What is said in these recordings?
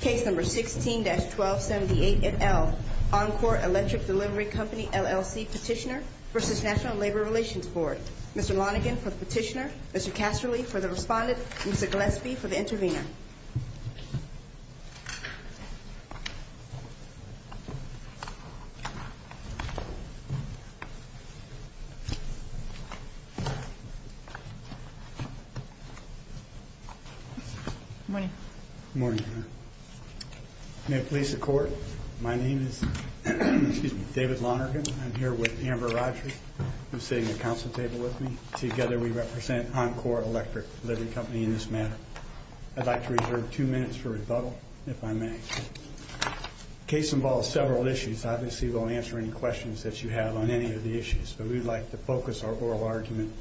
Case No. 16-1278, et al., Encor Electric Delivery Company, LLC, Petitioner v. National Labor Relations Board. Mr. Lonegan for the Petitioner, Mr. Casserly for the Respondent, and Mr. Gillespie for the Intervener. Good morning. Good morning. May it please the Court, my name is David Lonergan. I'm here with Amber Rysher, who's sitting at the council table with me. Together we represent Encor Electric Delivery Company in this matter. I'd like to reserve two minutes for rebuttal, if I may. The case involves several issues. Obviously, we'll answer any questions that you have on any of the issues. So we'd like to focus our oral argument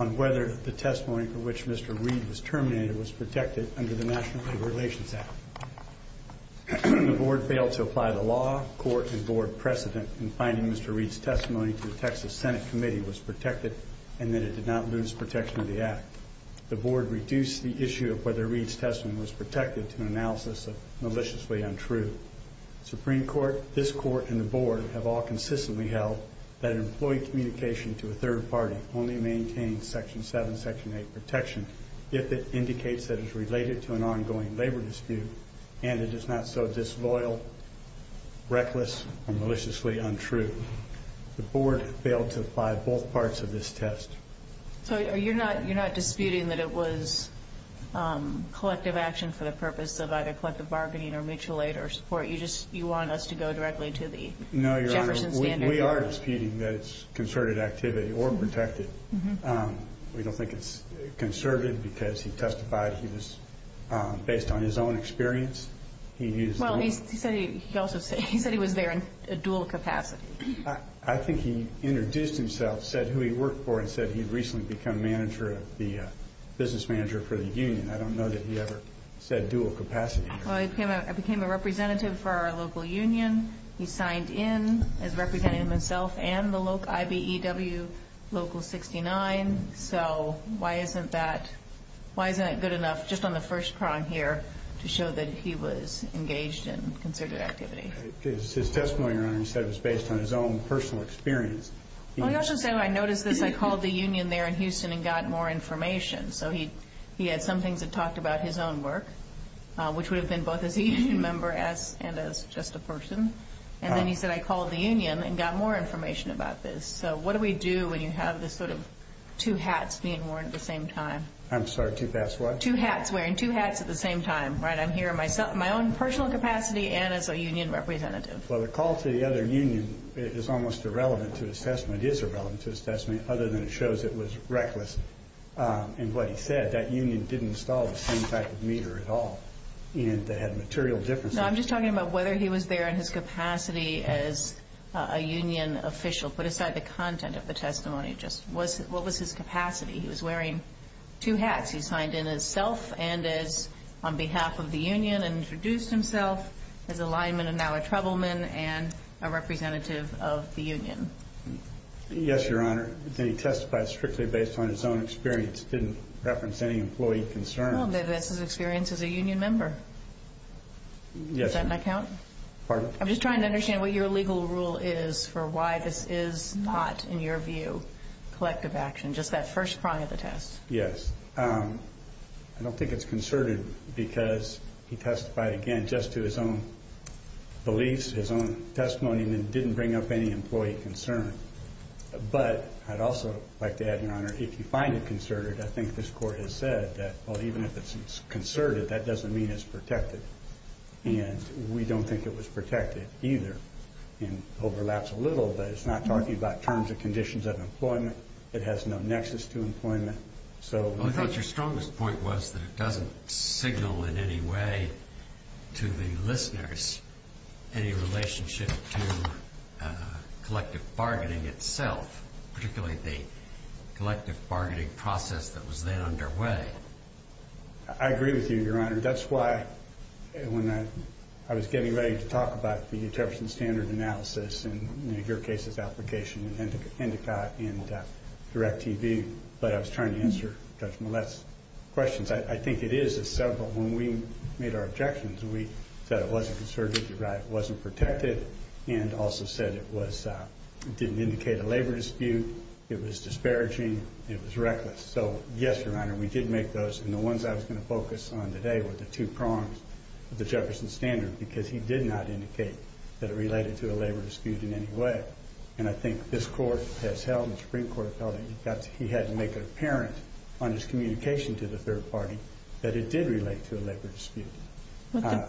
on whether the testimony for which Mr. Reed was terminated was protected under the National Labor Relations Act. The Board failed to apply the law, court, and Board precedent in finding Mr. Reed's testimony to the Texas Senate Committee was protected and that it did not lose protection of the Act. The Board reduced the issue of whether Reed's testimony was protected to an analysis of maliciously untrue. Supreme Court, this Court, and the Board have all consistently held that employee communication to a third party only maintains Section 7, Section 8 protection, if it indicates that it's related to an ongoing labor dispute and it is not so disloyal, reckless, and maliciously untrue. The Board failed to apply both parts of this test. So you're not disputing that it was collective action for the purpose of either collective bargaining or mutual aid or support? You just, you want us to go directly to the Jefferson standard? No, we are disputing that it's concerted activity or protected. We don't think it's conservative because he testified he was, based on his own experience, he needs... Well, he said he was there in a dual capacity. I think he introduced himself, said who he worked for, and said he'd recently become manager, the business manager for the union. I don't know that he ever said dual capacity. Well, he became a representative for our local union. He signed in as representing himself and the local, IBEW Local 69. So why isn't that, why isn't it good enough, just on the first prong here, to show that he was engaged in conservative activity? His testimony earlier said it was based on his own personal experience. He also said, I noticed this, I called the union there in Houston and got more information. So he had something to talk about his own work, which would have been both as a union member and as just a person. And then he said, I called the union and got more information about this. So what do we do when you have this sort of two hats being worn at the same time? I'm sorry, two hats what? Two hats, wearing two hats at the same time. Right, I'm here in my own personal capacity and as a union representative. Well, the call to the other union is almost irrelevant to his testimony. It is irrelevant to his testimony, other than it shows it was reckless. And what he said, that union didn't install the same type of meter at all. And they had material differences. No, I'm just talking about whether he was there in his capacity as a union official. Put aside the content of the testimony. Just what was his capacity? He was wearing two hats. He signed in as self and on behalf of the union and introduced himself as a lineman and now a troubleman and a representative of the union. Yes, Your Honor. He testified strictly based on his own experience. He didn't reference any employee concerns. Well, maybe that's his experience as a union member. Yes. Does that not count? Pardon? I'm just trying to understand what your legal rule is for why this is not, in your view, collective action. Just that first part of the test. Yes. I don't think it's concerted because he testified, again, just to his own beliefs, his own testimony, and didn't bring up any employee concerns. But I'd also like to add, Your Honor, if you find it concerted, I think this Court has said that even if it's concerted, that doesn't mean it's protected. And we don't think it was protected either. It overlaps a little, but it's not talking about terms and conditions of employment. It has no nexus to employment. But your strongest point was that it doesn't signal in any way to the listeners any relationship to collective bargaining itself, particularly the collective bargaining process that was then underway. I agree with you, Your Honor. Your Honor, that's why when I was getting ready to talk about the Determination Standard Analysis and your case of application and Indica and Direct TV, I thought I was trying to answer Judge Millett's questions. I think it is that when we made our objections, we said it wasn't concerted, that it wasn't protected, and also said it didn't indicate a labor dispute, it was disparaging, and it was reckless. So, yes, Your Honor, we did make those, and the ones I was going to focus on today were the two prongs of the Jefferson Standard, because he did not indicate that it related to a labor dispute in any way. And I think this Court has held, and the Supreme Court has held, that he had to make it apparent on his communication to the third party that it did relate to a labor dispute.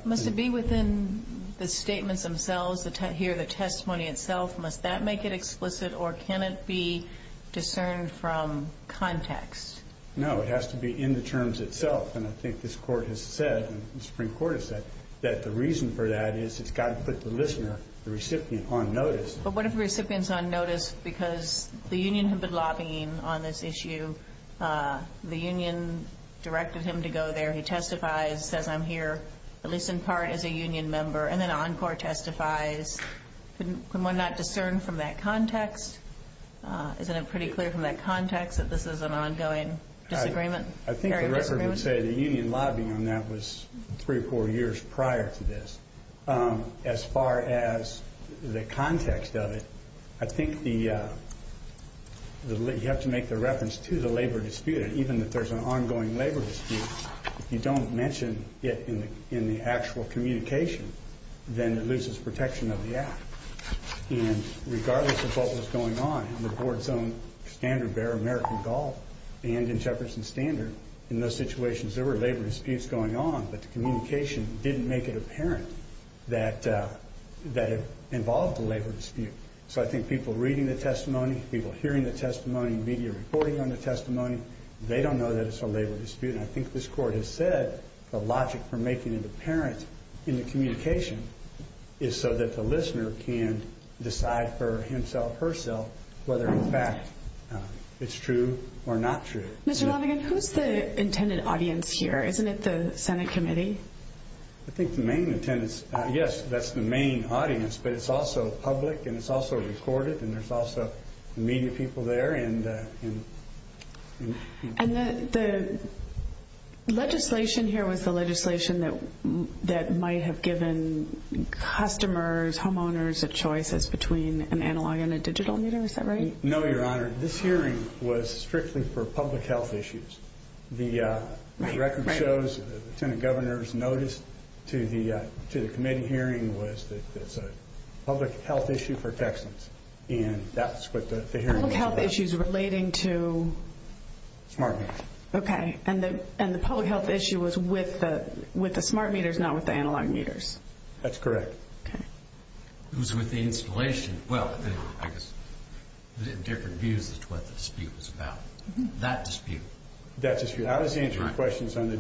Must it be within the statements themselves, here, the testimony itself? Must that make it explicit, or can it be discerned from context? No, it has to be in the terms itself. And I think this Court has said, and the Supreme Court has said, that the reason for that is it's got to put the listener, the recipient, on notice. But what if the recipient's on notice because the union had been lobbying on this issue, the union directed him to go there, he testifies, says, I'm here, at least in part, as a union member, and then Encore testifies. Can one not discern from that context? Isn't it pretty clear from that context that this is an ongoing disagreement? I think the record would say the union lobbying on that was three or four years prior to this. As far as the context of it, I think you have to make the reference to the labor dispute. Even if there's an ongoing labor dispute, if you don't mention it in the actual communication, then it loses protection of the act. And regardless of what was going on in the board's own standards, they're American Gulf and in Jefferson's standards, in those situations there were labor disputes going on, but the communication didn't make it apparent that it involved a labor dispute. So I think people reading the testimony, people hearing the testimony, media reporting on the testimony, they don't know that it's a labor dispute. And I think this Court has said the logic for making it apparent in the communication is so that the listener can decide for himself, herself, whether in fact it's true or not true. Mr. Mulligan, who's the intended audience here? Isn't it the Senate committee? I think the main attendance, yes, that's the main audience, but it's also public and it's also recorded and there's also media people there. And the legislation here was the legislation that might have given customers, homeowners, a choice as between an analog and a digital meeting, is that right? No, Your Honor, this hearing was strictly for public health issues. The record shows the Senate governor's notice to the committee hearing was that it was a public health issue for Texans. And that's what the hearing was about. Public health issues relating to? Smart meters. Okay, and the public health issue was with the smart meters, not with the analog meters? That's correct. It was with the installation. Well, it was in different views as to what the dispute was about. That dispute. That dispute. I was answering questions on the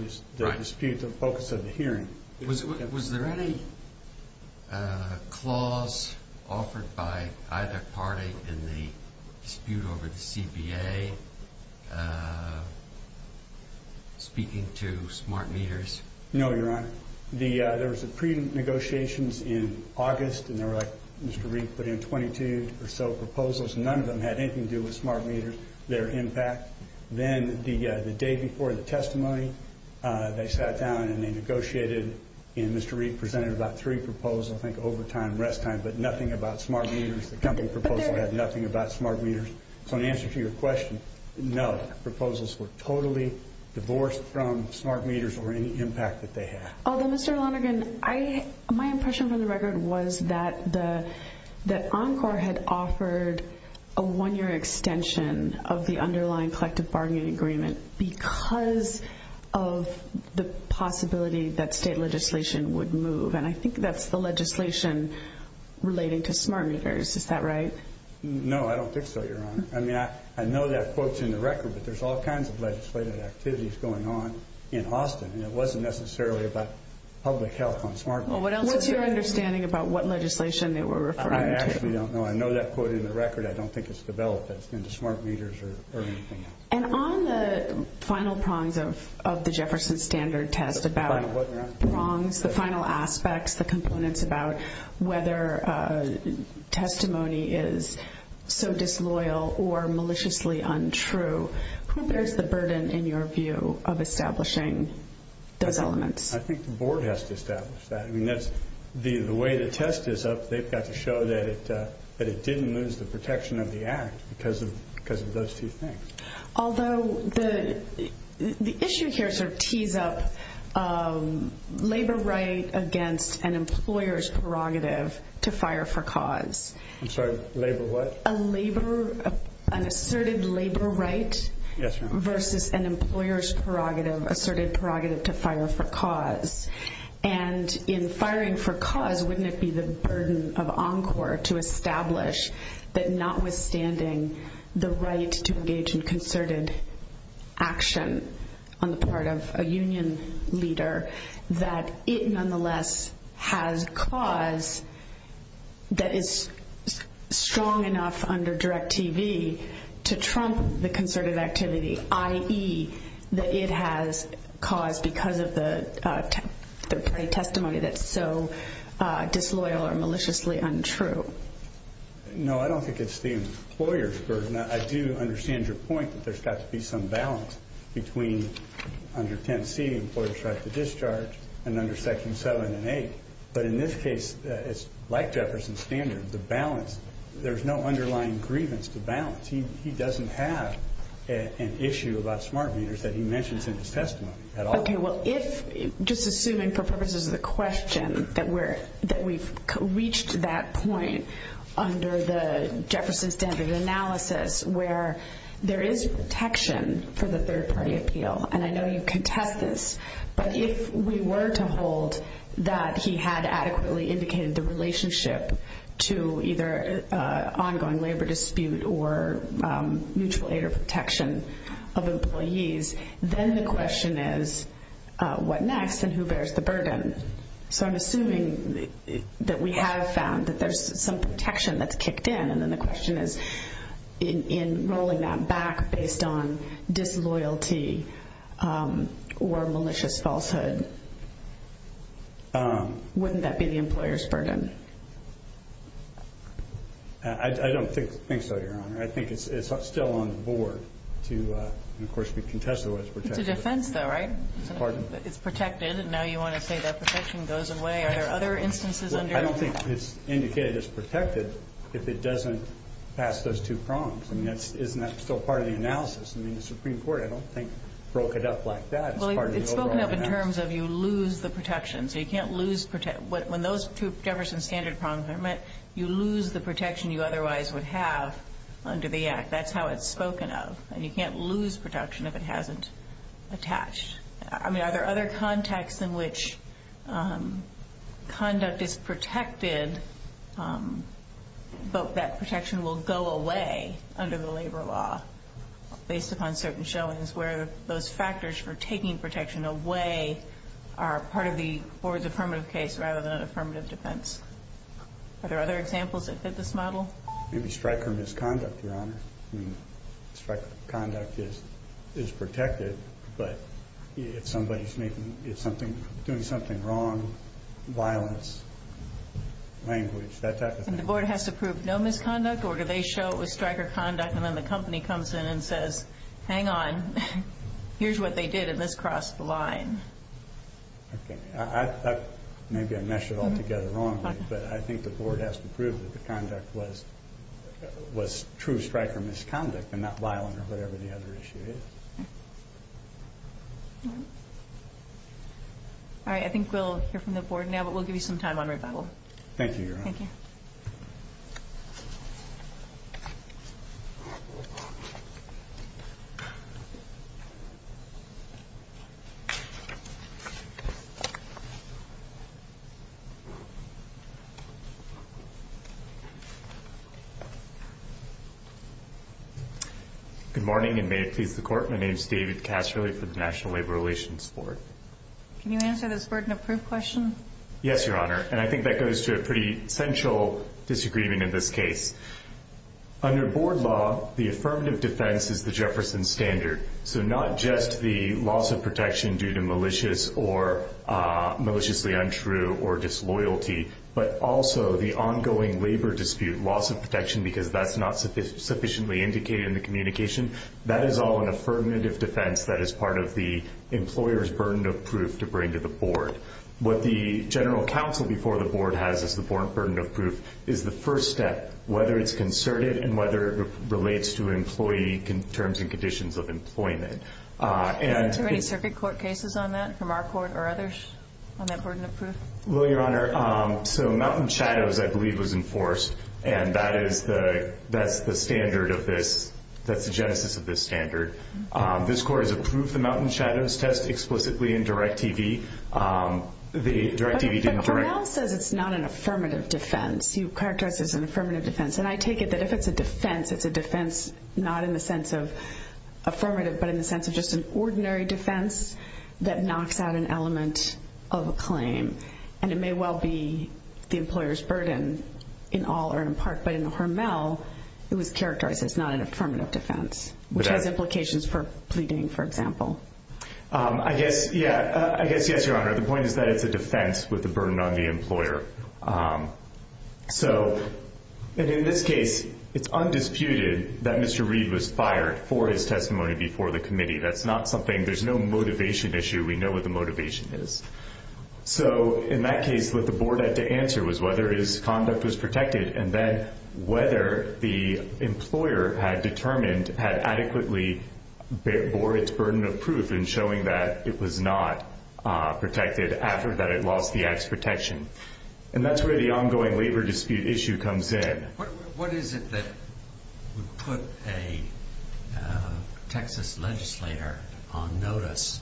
dispute that focused on the hearing. Was there any clause offered by either party in the dispute over the CBA speaking to smart meters? No, Your Honor. There was a pre-negotiations in August and they were like Mr. Reid put in 22 or so proposals. None of them had anything to do with smart meters, their impact. Then the day before the testimony, they sat down and they negotiated and Mr. Reid presented about three proposals, I think, overtime and rest time, but nothing about smart meters. The company proposal had nothing about smart meters. So in answer to your question, no. The proposals were totally divorced from smart meters or any impact that they had. Mr. Lonergan, my impression from the record was that Encore had offered a one-year extension of the underlying collective bargaining agreement because of the possibility that state legislation would move. And I think that's the legislation relating to smart meters. Is that right? No, I don't think so, Your Honor. I mean, I know that quote's in the record, but there's all kinds of legislative activities going on in Austin and it wasn't necessarily about public health on smart meters. What's your understanding about what legislation they were referring to? I actually don't know. I know that quote in the record. I don't think it's developed in smart meters or anything. And on the final prongs of the Jefferson Standard test about prongs, the final aspects, the components about whether testimony is so disloyal or maliciously untrue, who bears the burden in your view of establishing those elements? I think the board has to establish that. I mean, the way the test is up, they've got to show that it didn't lose the protection of the act because of those two things. Although the issue here sort of tees up labor right against an employer's prerogative to fire for cause. I'm sorry, labor what? A labor, an asserted labor right versus an employer's prerogative, asserted prerogative to fire for cause. And in firing for cause, wouldn't it be the burden of Encore to establish that notwithstanding the right to engage in concerted action on the part of a union leader, that it nonetheless has cause that is strong enough under Direct TV to trump the concerted activity, i.e., that it has cause because of the testimony that's so disloyal or maliciously untrue? No, I don't think it's the employer's burden. I do understand your point that there's got to be some balance between under 10C, employer's right to discharge, and under Section 7 and 8. But in this case, it's like Jefferson's standard, the balance. There's no underlying grievance to balance. He doesn't have an issue about smart meters that he mentions in his testimony at all. Okay, well, if, just assuming for purposes of the question, that we've reached that point under the Jefferson standard analysis, where there is protection for the third party appeal, and I know you contest this, but if we were to hold that he had adequately indicated the relationship to either ongoing labor dispute or mutual aid or protection of employees, then the question is, what next and who bears the burden? So I'm assuming that we have found that there's some protection that's kicked in, and then the question is, in rolling that back based on disloyalty or malicious falsehood, wouldn't that be the employer's burden? I don't think so, Your Honor. I mean, I think it's still on the board. Of course, we contested what is protected. It's a defense, though, right? Pardon? It's protected, and now you want to say that protection goes away. Are there other instances under that? Well, I don't think it's indicated as protected if it doesn't pass those two prongs. I mean, isn't that still part of the analysis? I mean, the Supreme Court, I don't think, broke it up like that. Well, it's spoken up in terms of you lose the protection. So you can't lose protection. When those two Jefferson standard prongs are met, you lose the protection you otherwise would have under the Act. That's how it's spoken of, and you can't lose protection if it hasn't attached. I mean, are there other contexts in which conduct is protected, but that protection will go away under the labor law, based upon certain showings, where those factors for taking protection away are part of the affirmative case rather than affirmative defense? Are there other examples that fit this model? Maybe strike or misconduct. I mean, strike or conduct is protected, but if somebody's doing something wrong, violence, language, that type of thing. And the board has to prove no misconduct, or do they show it was strike or conduct, and then the company comes in and says, hang on. Here's what they did, and this crossed the line. Okay. Maybe I meshed it all together wrong, but I think the board has to prove that the conduct was true strike or misconduct, and not violent or whatever the other issue is. All right. I think we'll hear from the board now, but we'll give you some time on rebuttal. Thank you, Your Honor. Thank you. Good morning, and may it please the Court, my name is David Casserly for the National Labor Relations Board. Can you answer this burden of proof question? Yes, Your Honor, and I think that goes to a pretty central disagreement in this case. Under board law, the affirmative defense is the Jefferson Standard, so not just the loss of protection due to malicious or maliciously untrue or disloyalty, but also the ongoing labor dispute, loss of protection because that's not sufficiently indicated in the communication. That is all an affirmative defense that is part of the employer's burden of proof to bring to the board. What the general counsel before the board has as the board burden of proof is the first step, whether it's concerted and whether it relates to employee terms and conditions of employment. Are there any circuit court cases on that from our court or others on that burden of proof? Well, Your Honor, so Mountain Shadows, I believe, was enforced, and that is the standard of this. That's the genesis of this standard. This court has approved the Mountain Shadows test explicitly in Direct TV. The Direct TV didn't direct. But the court also said it's not an affirmative defense. You characterized it as an affirmative defense, and I take it that if it's a defense, it's a defense not in the sense of affirmative but in the sense of just an ordinary defense that knocks out an element of a claim, and it may well be the employer's burden in all or in part, but in Hermel, it was characterized as not an affirmative defense, which has implications for pleading, for example. I guess, yes, Your Honor. The point is that it's a defense with the burden on the employer. So in this case, it's undisputed that Mr. Reed was fired for his testimony before the committee. That's not something – there's no motivation issue. We know what the motivation is. So in that case, what the board had to answer was whether his conduct was protected and then whether the employer had determined, had adequately bore its burden of proof in showing that it was not protected after that it lost the act's protection. And that's where the ongoing labor dispute issue comes in. What is it that put a Texas legislator on notice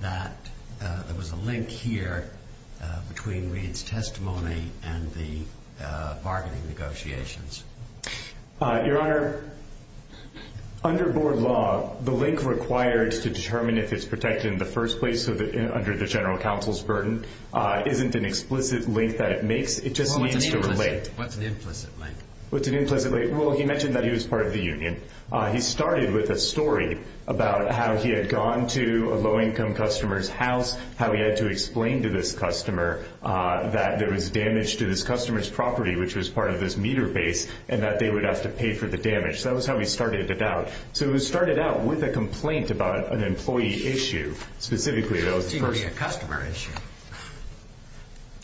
that there was a link here between Reed's testimony and the bargaining negotiations? Your Honor, under board law, the link required to determine if it's protected in the first place under the general counsel's burden isn't an explicit link that it makes. It just means to relate. What's an implicit link? What's an implicit link? Well, he mentioned that he was part of the union. He started with a story about how he had gone to a low-income customer's house, how he had to explain to this customer that there was damage to this customer's property, which was part of this meter base, and that they would have to pay for the damage. So that was how he started it out. So he started out with a complaint about an employee issue, specifically. It seemed to be a customer issue.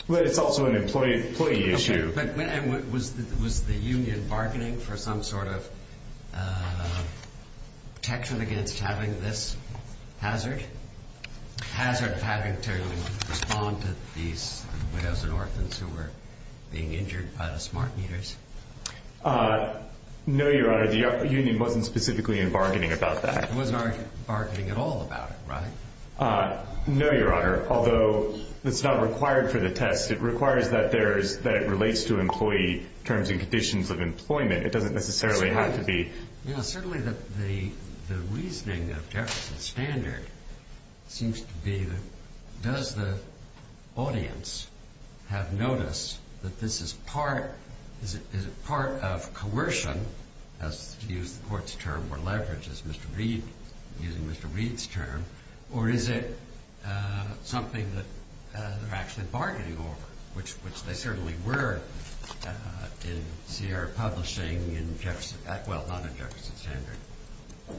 But it's also an employee issue. But was the union bargaining for some sort of protection against having this hazard, the hazard of having to respond to these dozen orphans who were being injured by the smart meters? No, Your Honor, the union wasn't specifically in bargaining about that. It was not bargaining at all about it, right? No, Your Honor, although it's not required for the text. It requires that it relates to employee terms and conditions of employment. It doesn't necessarily have to be. Certainly the reasoning of Jefferson's standard seems to be that does the audience have notice that this is part of coercion, to use the court's term, or leverage, as Mr. Reed, using Mr. Reed's term, or is it something that they're actually bargaining over, which they certainly were in Sierra Publishing, well, not in Jefferson's standard,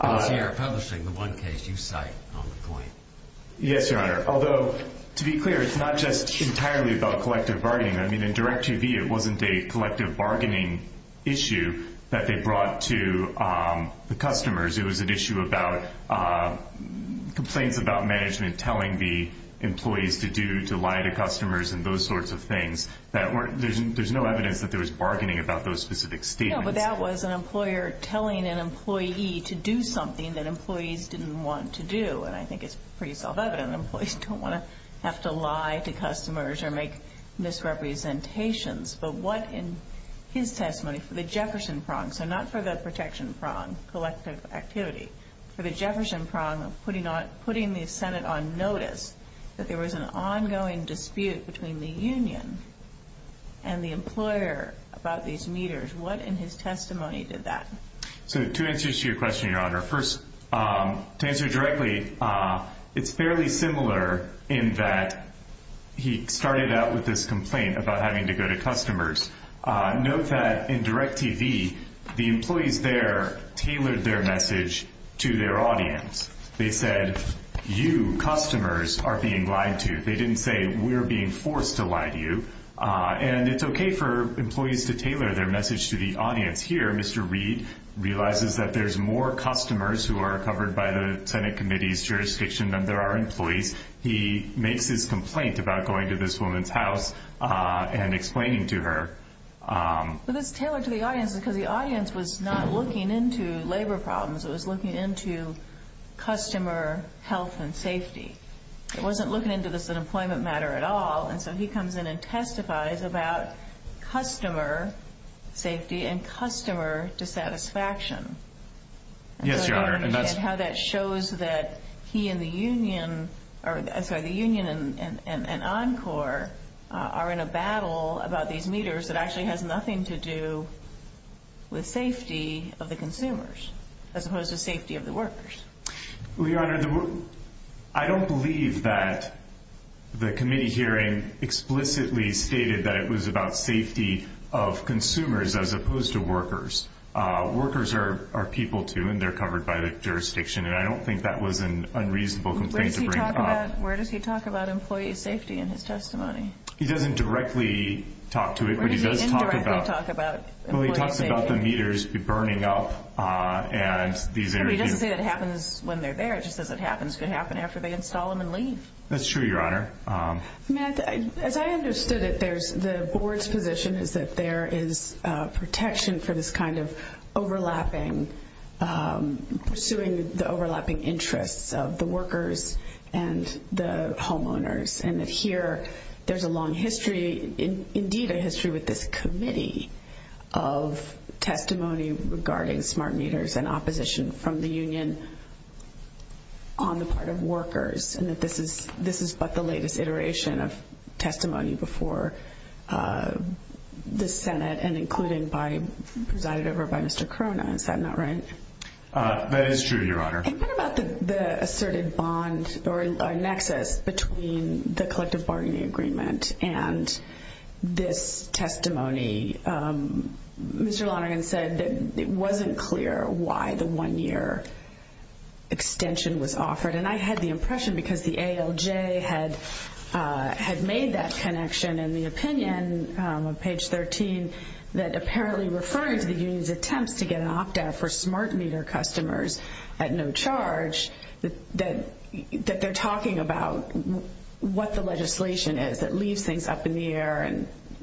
but in Sierra Publishing, the one case you cite on the point. Yes, Your Honor. Although, to be clear, it's not just entirely about collective bargaining. I mean, in Direct TV, it wasn't a collective bargaining issue that they brought to the customers. It was an issue about complaints about management telling the employees to lie to customers and those sorts of things. There's no evidence that there was bargaining about those specific statements. No, but that was an employer telling an employee to do something that employees didn't want to do, and I think it's pretty self-evident. Employees don't want to have to lie to customers or make misrepresentations. But what in his testimony for the Jefferson prong, so not for the protection prong, collective activity, for the Jefferson prong of putting the Senate on notice that there was an ongoing dispute between the union and the employer about these meters, what in his testimony did that? So two answers to your question, Your Honor. First, to answer directly, it's fairly similar in that he started out with this complaint about having to go to customers. Note that in Direct TV, the employees there tailored their message to their audience. They said, you, customers, are being lied to. They didn't say, we're being forced to lie to you. And it's okay for employees to tailor their message to the audience. And here, Mr. Reed realizes that there's more customers who are covered by the Senate committee's jurisdiction than there are employees. He makes his complaint about going to this woman's house and explaining to her. But it's tailored to the audience because the audience was not looking into labor problems. It was looking into customer health and safety. It wasn't looking into this unemployment matter at all, and so he comes in and testifies about customer safety and customer dissatisfaction. Yes, Your Honor. And how that shows that he and the union and Encore are in a battle about these meters that actually has nothing to do with safety of the consumers as opposed to safety of the workers. Well, Your Honor, I don't believe that the committee hearing explicitly stated that it was about safety of consumers as opposed to workers. Workers are people, too, and they're covered by the jurisdiction, and I don't think that was an unreasonable complaint to bring upon. Where does he talk about employee safety in his testimony? He doesn't directly talk to it, but he does talk about the meters burning up and these images. It happens when they're there just as it happens to happen after they install them and leave. That's true, Your Honor. As I understood it, the board's position is that there is protection for this kind of overlapping, pursuing the overlapping interests of the workers and the homeowners, and that here there's a long history, indeed a history with this committee, of testimony regarding smart meters and opposition from the union on the part of workers and that this is but the latest iteration of testimony before the Senate and included by President Obama and Mr. Cronin. Is that not right? That is true, Your Honor. And what about the assertive bond or nexus between the collective bargaining agreement and this testimony? Mr. Lyon said that it wasn't clear why the one-year extension was offered, and I had the impression because the ALJ had made that connection in the opinion, page 13, that apparently referring to the union's attempts to get an opt-out for smart meter customers at no charge, that they're talking about what the legislation is that leaves things up in the air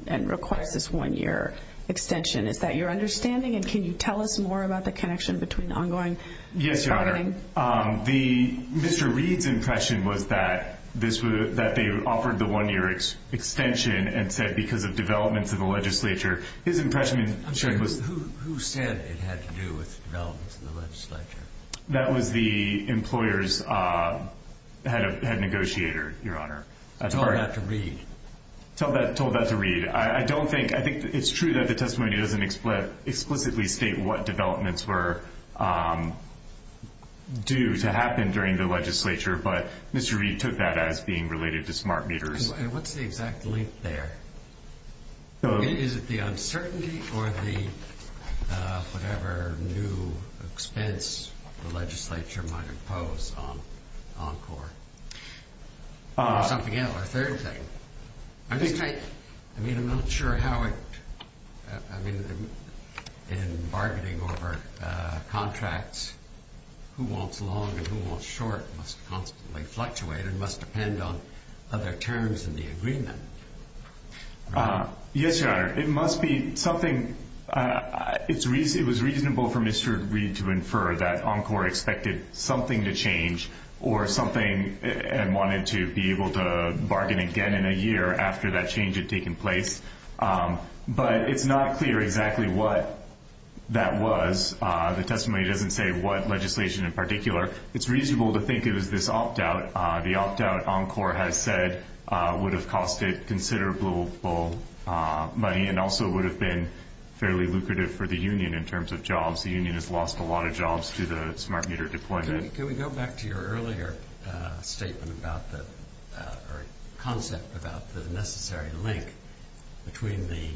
and requires this one-year extension. Is that your understanding? And can you tell us more about the connection between the ongoing bargaining? Yes, Your Honor. Mr. Reed's impression was that they offered the one-year extension and said because of developments in the legislature. Who said it had to do with developments in the legislature? That was the employer's head negotiator, Your Honor. Told that to Reed. Told that to Reed. I think it's true that the testimony doesn't explicitly state what developments were due to happen during the legislature, but Mr. Reed took that as being related to smart meters. And what's the exact link there? Is it the uncertainty or the whatever new expense the legislature might impose on CORE? Or something else? Or a third thing? I mean, I'm not sure how it – I mean, in bargaining over contracts, who wants long and who wants short must constantly fluctuate and must depend on other terms in the agreement. Yes, Your Honor. It must be something – it was reasonable for Mr. Reed to infer that ENCORE expected something to change or something and wanted to be able to bargain again in a year after that change had taken place. But it's not clear exactly what that was. The testimony doesn't say what legislation in particular. It's reasonable to think it is this opt-out. The opt-out ENCORE has said would have cost it considerable money and also would have been fairly lucrative for the union in terms of jobs. The union has lost a lot of jobs to the smart meter deployment. Can we go back to your earlier statement about the – or concept about the necessary link between the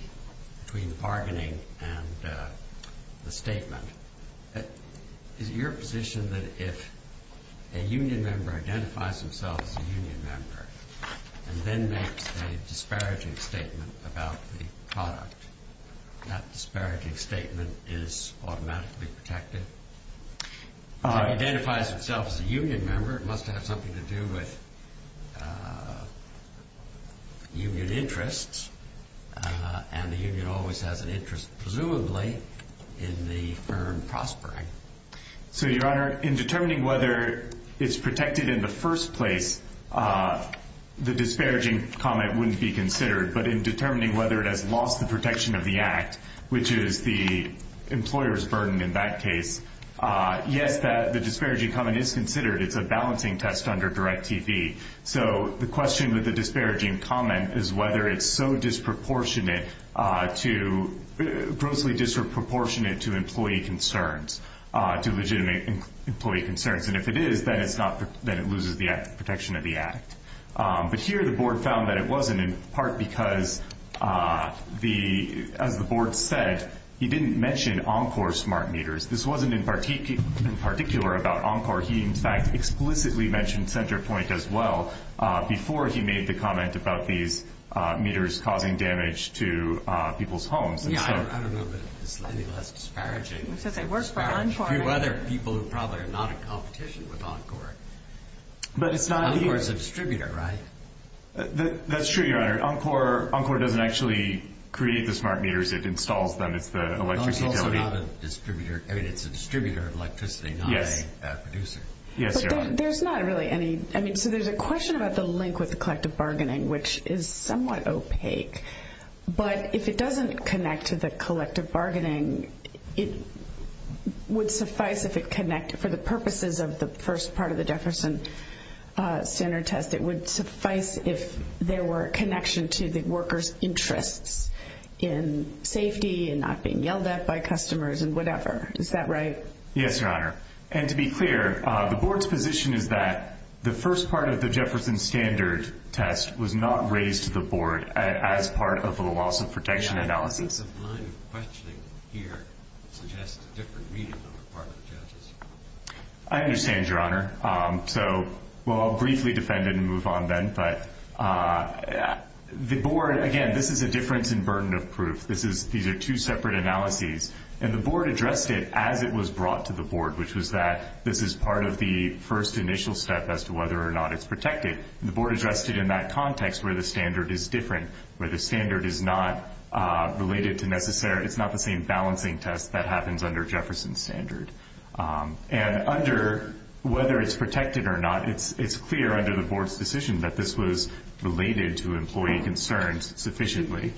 bargaining and the statement? Is it your position that if a union member identifies himself as a union member and then makes a disparaging statement about the product, that disparaging statement is automatically protected? If it identifies itself as a union member, it must have something to do with union interests. And the union always has an interest, presumably, in the firm prospering. So, Your Honor, in determining whether it's protected in the first place, the disparaging comment wouldn't be considered. But in determining whether it has lost the protection of the act, which is the employer's burden in that case, yet that the disparaging comment is considered, it's a balancing test under Direct TV. So the question with the disparaging comment is whether it's so disproportionate to – grossly disproportionate to employee concerns, to legitimate employee concerns. And if it is, then it's not – then it loses the protection of the act. But here the board found that it wasn't, in part because the – as the board said, he didn't mention Encore smart meters. This wasn't in particular about Encore. He, in fact, explicitly mentioned CenterPoint as well before he made the comment about these meters causing damage to people's homes. Yeah, I don't know that it's anything less disparaging. So they work for Encore. To other people who are probably not in competition with Encore. But it's not – Encore is a distributor, right? That's true, Your Honor. Encore doesn't actually create the smart meters. It installs them. It's the electricity company. It's also not a distributor. I mean, it's a distributor of electricity, not a producer. Yes, Your Honor. But there's not really any – I mean, so there's a question about the link with the collective bargaining, which is somewhat opaque. But if it doesn't connect to the collective bargaining, it would suffice if it connected. For the purposes of the first part of the Jefferson Standard test, it would suffice if there were a connection to the workers' interest in safety and not being yelled at by customers and whatever. Is that right? Yes, Your Honor. And to be clear, the Board's position is that the first part of the Jefferson Standard test was not raised to the Board as part of the loss of protection analysis. I think the line of questioning here suggests a different meaning on the part of justice. I understand, Your Honor. So, well, I'll briefly defend it and move on then. But the Board – again, this is a difference in burden of proof. These are two separate analyses. And the Board addressed it as it was brought to the Board, which was that this is part of the first initial step as to whether or not it's protected. The Board addressed it in that context where the standard is different, where the standard is not related to necessary – it's not the same balancing test that happens under Jefferson Standard. And under whether it's protected or not, it's clear under the Board's decision that this was related to employee concerns sufficiently.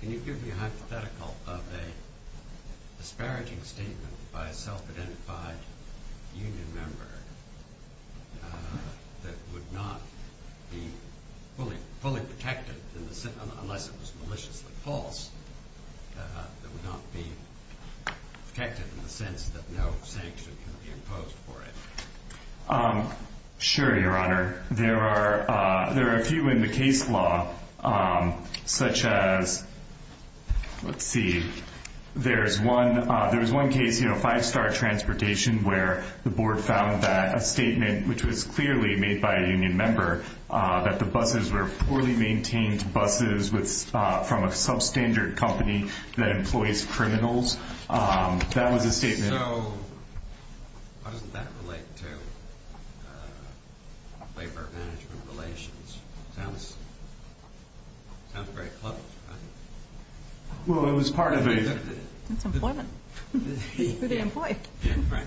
Can you give me a hypothetical of a disparaging statement by a self-identified union member that would not be fully protected unless it was maliciously false, that would not be protected in the sense that no sanction would be imposed for it? Sure, Your Honor. There are a few in the case law, such as – let's see. There's one case, Five Star Transportation, where the Board found that a statement, which was clearly made by a union member, that the buses were poorly maintained buses from a substandard company that employs criminals. That was a statement. So, how does that relate to labor-management relations? It sounds very clever, doesn't it? Well, it was part of the – Employment. For the employee. Your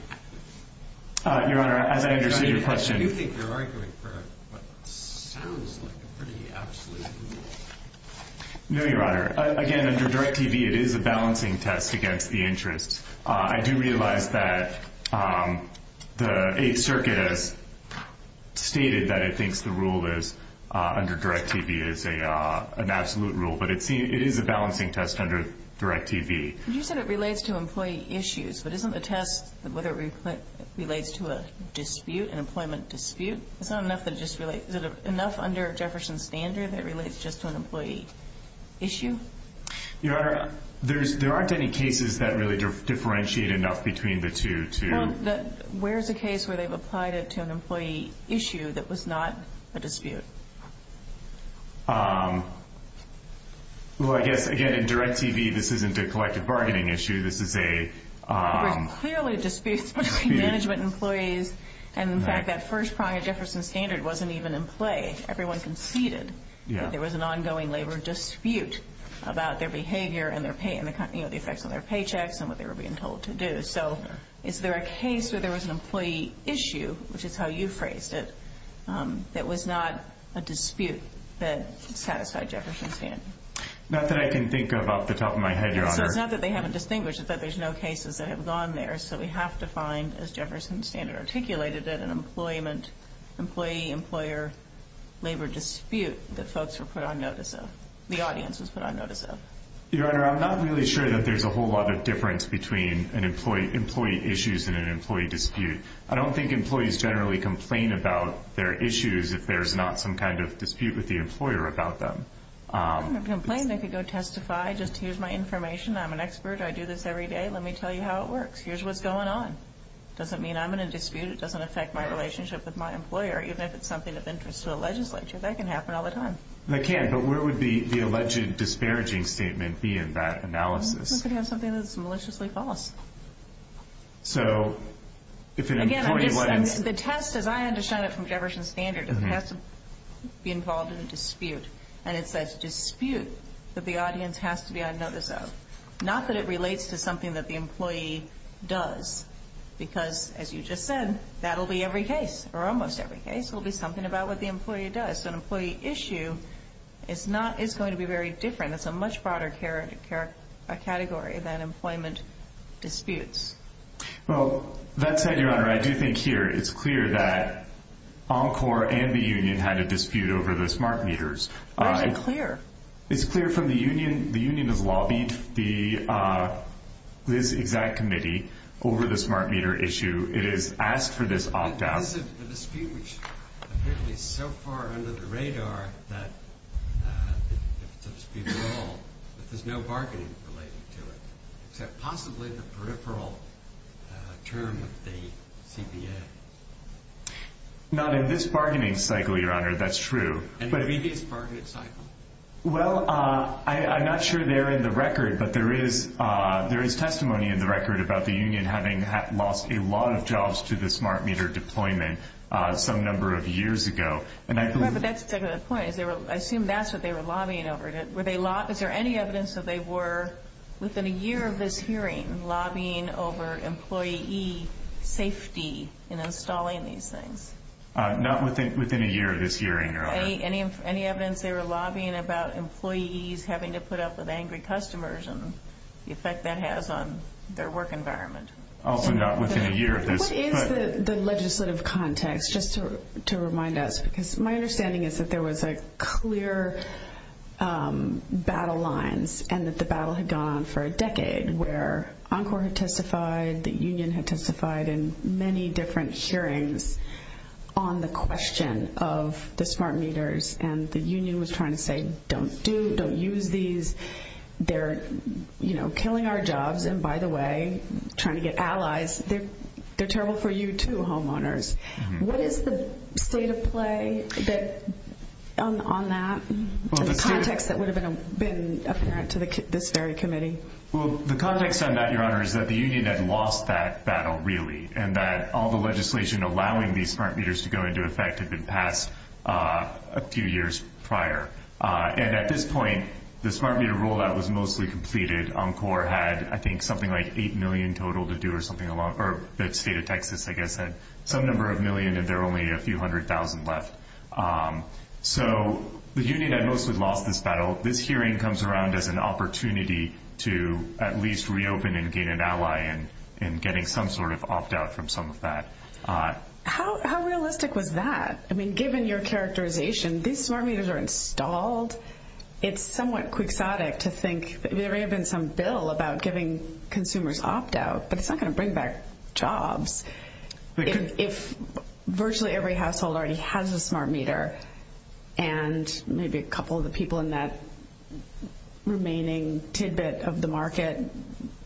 Honor, as I understand your question – Do you think your argument for it sounds pretty absolute? No, Your Honor. Again, under Direct TV, it is a balancing test against the interest. I do realize that the Eighth Circuit has stated that it thinks the rule under Direct TV is an absolute rule, but it is a balancing test under Direct TV. You said it relates to employee issues, but isn't the test – would it relate to a dispute, an employment dispute? Is there enough under Jefferson's standard that relates just to an employee issue? Your Honor, there aren't any cases that really differentiate enough between the two. Well, where's the case where they've applied it to an employee issue that was not a dispute? Well, I guess, again, in Direct TV, this isn't a collective bargaining issue. This is a – There's clearly disputes between management employees, and in fact, that first crime of Jefferson's standard wasn't even in play. Everyone conceded that there was an ongoing labor dispute about their behavior and their pay and the effects on their paychecks and what they were being told to do. So is there a case where there was an employee issue, which is how you phrased it, that was not a dispute that sat outside Jefferson's standard? Not that I can think of off the top of my head, Your Honor. It's not that they haven't distinguished. It's that there's no cases that have gone there, that we have to find, as Jefferson's standard articulated it, an employee-employer labor dispute that folks were put on notice of, the audience was put on notice of. Your Honor, I'm not really sure that there's a whole lot of difference between employee issues and an employee dispute. I don't think employees generally complain about their issues if there's not some kind of dispute with the employer about them. I don't complain. I can go testify. Just here's my information. I'm an expert. I do this every day. Let me tell you how it works. Here's what's going on. It doesn't mean I'm in a dispute. It doesn't affect my relationship with my employer, even if it's something of interest to the legislature. That can happen all the time. It can, but where would the alleged disparaging statement be in that analysis? It could be on something that's maliciously false. So if an employee... Again, the test, as I understand it from Jefferson's standard, it has to be involved in a dispute, and it says dispute, that the audience has to be on notice of. Not that it relates to something that the employee does, because as you just said, that will be every case, or almost every case, will be something about what the employee does. So an employee issue is going to be very different. It's a much broader category than employment disputes. Well, let's say, Your Honor, I do think here it's clear that Encore and the union had a dispute over the smart meters. Why is it clear? It's clear from the union, the union of lobby, that committee over the smart meter issue. It has asked for this opt-out. The dispute is so far under the radar that there's no bargaining related to it, except possibly the peripheral term with the CBA. Now, then, this bargaining cycle, Your Honor, that's true. Any previous bargaining cycle? Well, I'm not sure they're in the record, but there is testimony in the record about the union having lost a lot of jobs to the smart meter deployment some number of years ago. That's a good point. I assume that's what they were lobbying over. Is there any evidence that they were, within a year of this hearing, lobbying over employee safety in installing these things? Not within a year of this hearing, Your Honor. Any evidence they were lobbying about employees having to put up with angry customers and the effect that has on their work environment? Also not within a year of this. What is the legislative context, just to remind us? Because my understanding is that there was a clear battle line and that the battle had gone on for a decade where Encore had testified, the union had testified in many different hearings on the question of the smart meters, and the union was trying to say, don't do, don't use these. They're, you know, killing our jobs, and by the way, trying to get allies. They're terrible for you too, homeowners. What is the state of play on that, the context that would have been apparent to this very committee? Well, the context on that, Your Honor, is that the union had lost that battle, really, and that all the legislation allowing these smart meters to go into effect had been passed a few years prior. And at this point, the smart meter rollout was mostly completed. Encore had, I think, something like $8 million total to do or something along, or the state of Texas, I guess, had some number of million and there were only a few hundred thousand left. So the union had mostly lost this battle. This hearing comes around as an opportunity to at least reopen and gain an ally in getting some sort of opt-out from some of that. How realistic was that? I mean, given your characterization, these smart meters are installed. It's somewhat quixotic to think there may have been some bill about giving consumers opt-out, but it's not going to bring back jobs. If virtually every household already has a smart meter and maybe a couple of the people in that remaining tidbit of the market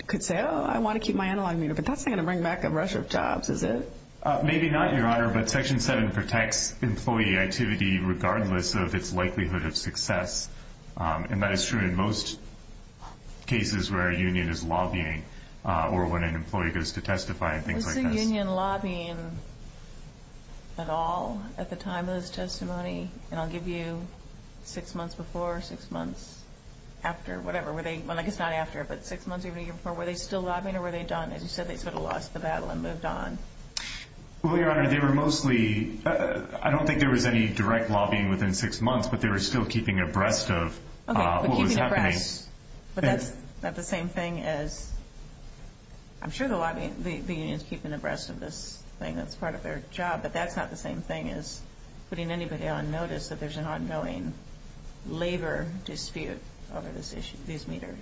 could say, oh, I want to keep my analog meter, but that's not going to bring back a rush of jobs, is it? Maybe not, Your Honor, but Section 7 protects employee activity regardless of its likelihood of success. And that is true in most cases where a union is lobbying or when an employee goes to testify and things like that. Was the union lobbying at all at the time of this testimony? And I'll give you six months before, six months after, whatever. Well, I guess not after, but six months even before, were they still lobbying or were they done? They said they could have lost the battle and moved on. Well, Your Honor, they were mostly – I don't think there was any direct lobbying within six months, but they were still keeping abreast of what was happening. Yes. But that's not the same thing as – I'm sure the union is keeping abreast of this thing as part of their job, but that's not the same thing as putting anybody on notice that there's an ongoing labor dispute over these meters.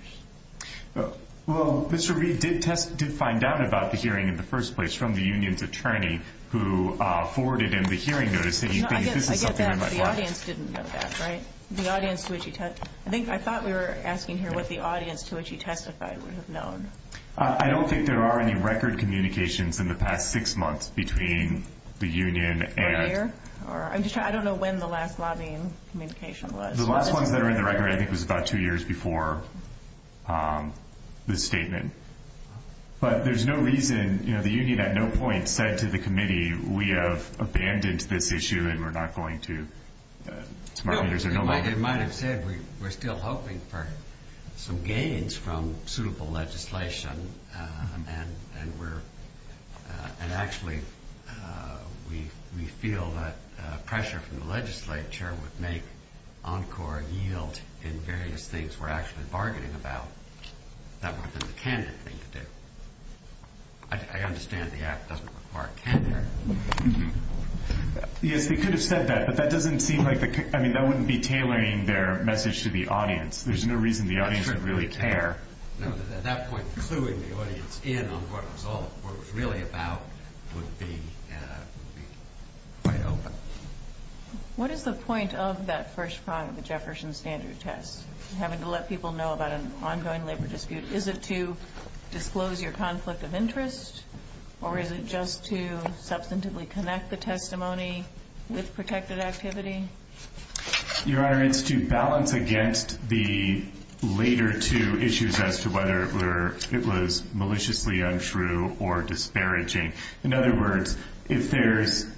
Well, Mr. Reed did find out about the hearing in the first place from the union's attorney who forwarded him the hearing notice, saying he couldn't do something otherwise. No, I get that, but the audience didn't know that, right? The audience to which he – I think I thought we were asking here what the audience to which he testified would have known. I don't think there are any record communications in the past six months between the union and – This year? I don't know when the last lobbying communication was. The last ones that are in the record, I think, was about two years before this statement. But there's no reason – you know, the union at no point said to the committee, we have abandoned this issue and we're not going to – Like you might have said, we're still hoping for some gains from suitable legislation, and we're – and actually we feel that pressure from the legislature would make ENCOR a yield in various things we're actually bargaining about that were for the candidate to do. I understand the act doesn't require tenure. Yes, we could have said that, but that doesn't seem like the – I mean, that wouldn't be tailoring their message to the audience. There's no reason the audience would really care. No, at that point, clueing the audience in on what was all really about would be quite helpful. What is the point of that first part of the Jefferson standard test, having to let people know about an ongoing labor dispute? Is it to disclose your conflict of interest, or is it just to substantively connect the testimony with protected activity? Your Honor, it's to balance against the later two issues as to whether it was maliciously untrue or disparaging. In other words, if there's –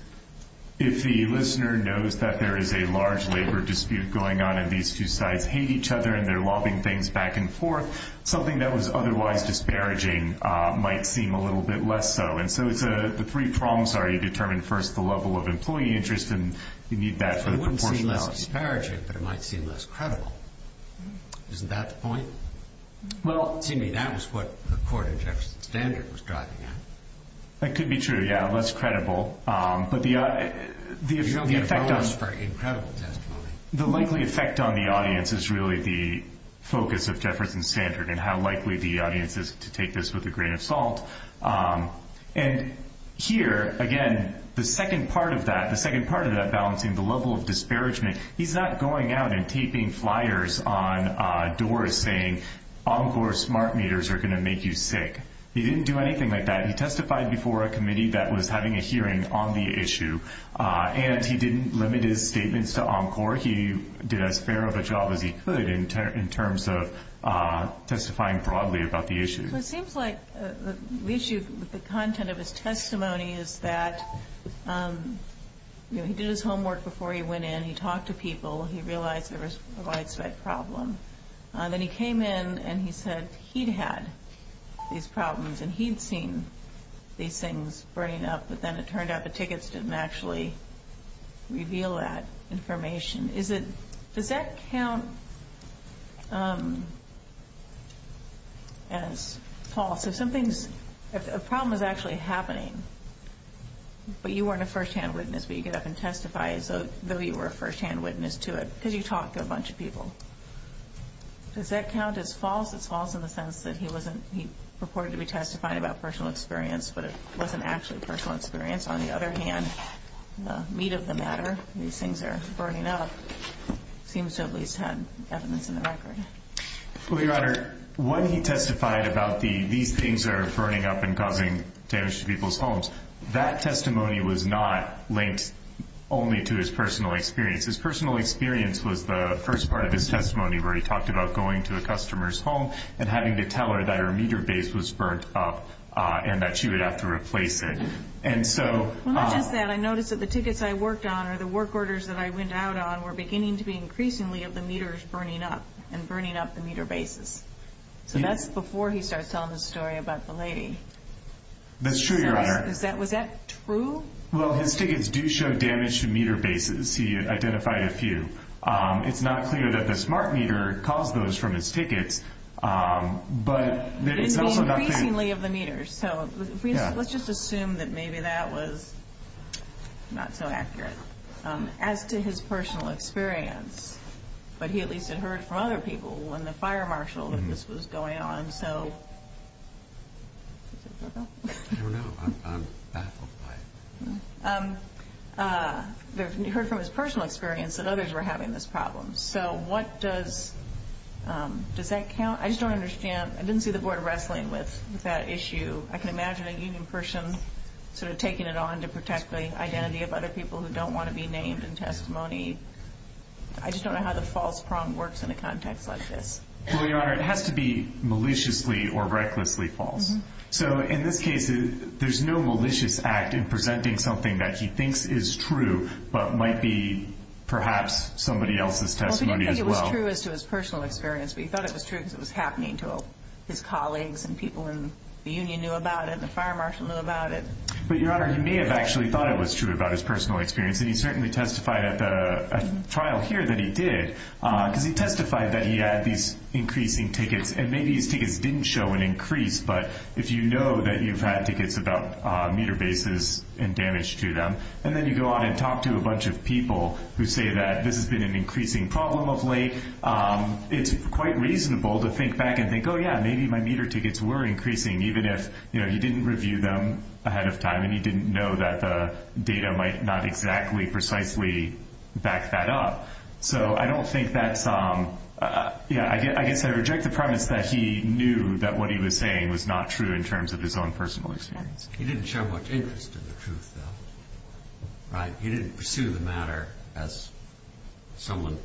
if the listener knows that there is a large labor dispute going on and these two sides hate each other and they're lobbing things back and forth, something that was otherwise disparaging might seem a little bit less so. And so the three problems are you determine first the level of employee interest, and you need that sort of proportionality. It wouldn't seem less disparaging, but it might seem less credible. Isn't that the point? Well, to me, that is what the court in Jefferson standard was driving at. That could be true, yeah, less credible. But the effect on – You know, there was very incredible testimony. The likely effect on the audience is really the focus of Jefferson standard and how likely the audience is to take this with a grain of salt. And here, again, the second part of that, the second part of that balancing, the level of disparagement, he's not going out and taping flyers on doors saying Encore smart meters are going to make you sick. He didn't do anything like that. He testified before a committee that was having a hearing on the issue, and he didn't limit his statements to Encore. He did as fair of a job as he could in terms of testifying broadly about the issue. It seems like the issue, the content of his testimony is that he did his homework before he went in. He talked to people. He realized there was a widespread problem. Then he came in, and he said he'd had these problems, and he'd seen these things burning up. But then it turned out the tickets didn't actually reveal that information. Does that count as false? If a problem is actually happening, but you weren't a firsthand witness, but you get up and testify as though you were a firsthand witness to it, could he talk to a bunch of people? Does that count as false? It's false in the sense that he purported to be testifying about personal experience, but it wasn't actually personal experience. On the other hand, the meat of the matter, these things are burning up, seems to at least have evidence in the record. Well, your Honor, when he testified about these things that are burning up and causing damage to people's homes, that testimony was not linked only to his personal experience. His personal experience was the first part of his testimony where he talked about going to a customer's home and having to tell her that her meter base was burnt up and that she would have to replace it. When he said that, I noticed that the tickets I worked on or the work orders that I went out on were beginning to be increasingly of the meters burning up and burning up the meter bases. So that's before he starts telling the story about the lady. That's true, your Honor. Was that true? He identified a few. It's not clear that the smart meter caused those from his ticket, but it's also not clear. It's increasingly of the meters. Let's just assume that maybe that was not so accurate. As to his personal experience, but he at least had heard from other people when the fire marshal was going on. I don't know. I'm baffled by it. You heard from his personal experience that others were having this problem. So what does, does that count? I just don't understand. I didn't see the board wrestling with that issue. I can imagine a union person sort of taking it on to protect the identity of other people who don't want to be named in testimony. I just don't know how the false prong works in a context like this. Well, your Honor, it has to be maliciously or recklessly false. So in this case, there's no malicious act in presenting something that he thinks is true but might be perhaps somebody else's testimony as well. I think it was true as to his personal experience, but he thought it was true because it was happening to his colleagues and people in the union knew about it and the fire marshal knew about it. But, your Honor, he may have actually thought it was true about his personal experience, and he certainly testified at the trial here that he did because he testified that he had these increasing tickets and maybe these tickets didn't show an increase, but if you know that you've had tickets about meter bases and damage to them and then you go on and talk to a bunch of people who say that this has been an increasing problem of late, it's quite reasonable to think back and think, oh, yeah, maybe my meter tickets were increasing, even if, you know, you didn't review them ahead of time and you didn't know that the data might not exactly precisely back that up. So I don't think that's, yeah, I guess I reject the premise that he knew that what he was saying was not true in terms of his own personal experience. He didn't show much interest in the truth, though, right? He didn't pursue the matter as someone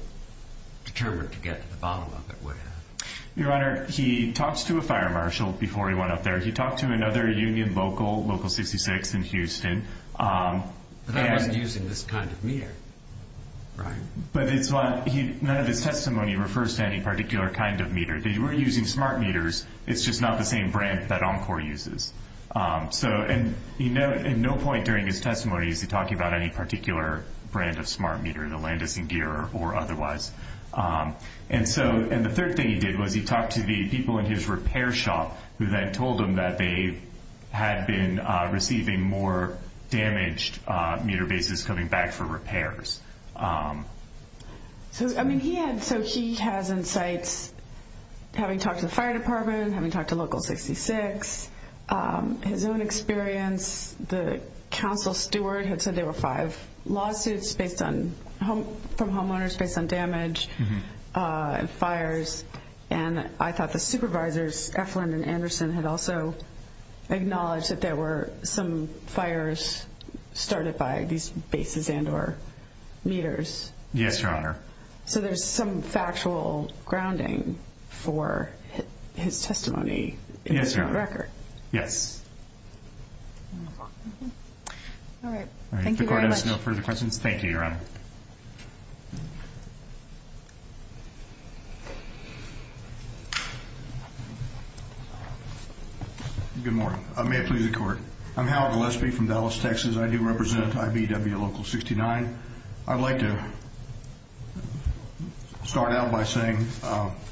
determined to get to the bottom of it would have. Your Honor, he talked to a fire marshal before he went up there. He talked to another union local, Local 66 in Houston. They weren't using this kind of meter, right? But none of the testimony refers to any particular kind of meter. They were using smart meters. It's just not the same brand that Encore uses. And at no point during his testimony is he talking about any particular brand of smart meter, the Landers and Geer or otherwise. And the third thing he did was he talked to the people in his repair shop who then told him that they had been receiving more damaged meter bases coming back for repairs. So, I mean, he had, so he has insights having talked to the fire department, having talked to Local 66, his own experience, the council steward had said there were five lawsuits based on, from homeowners based on damage and fires. And I thought the supervisors, Efrin and Anderson, had also acknowledged that there were some fires started by these bases and or meters. Yes, Your Honor. So there's some factual grounding for his testimony in this record. Yes, Your Honor. Yes. All right. The court has no further questions. Thank you, Your Honor. Good morning. May it please the court. I'm Howard Gillespie from Dallas, Texas. I do represent 5EW Local 69. I'd like to start out by saying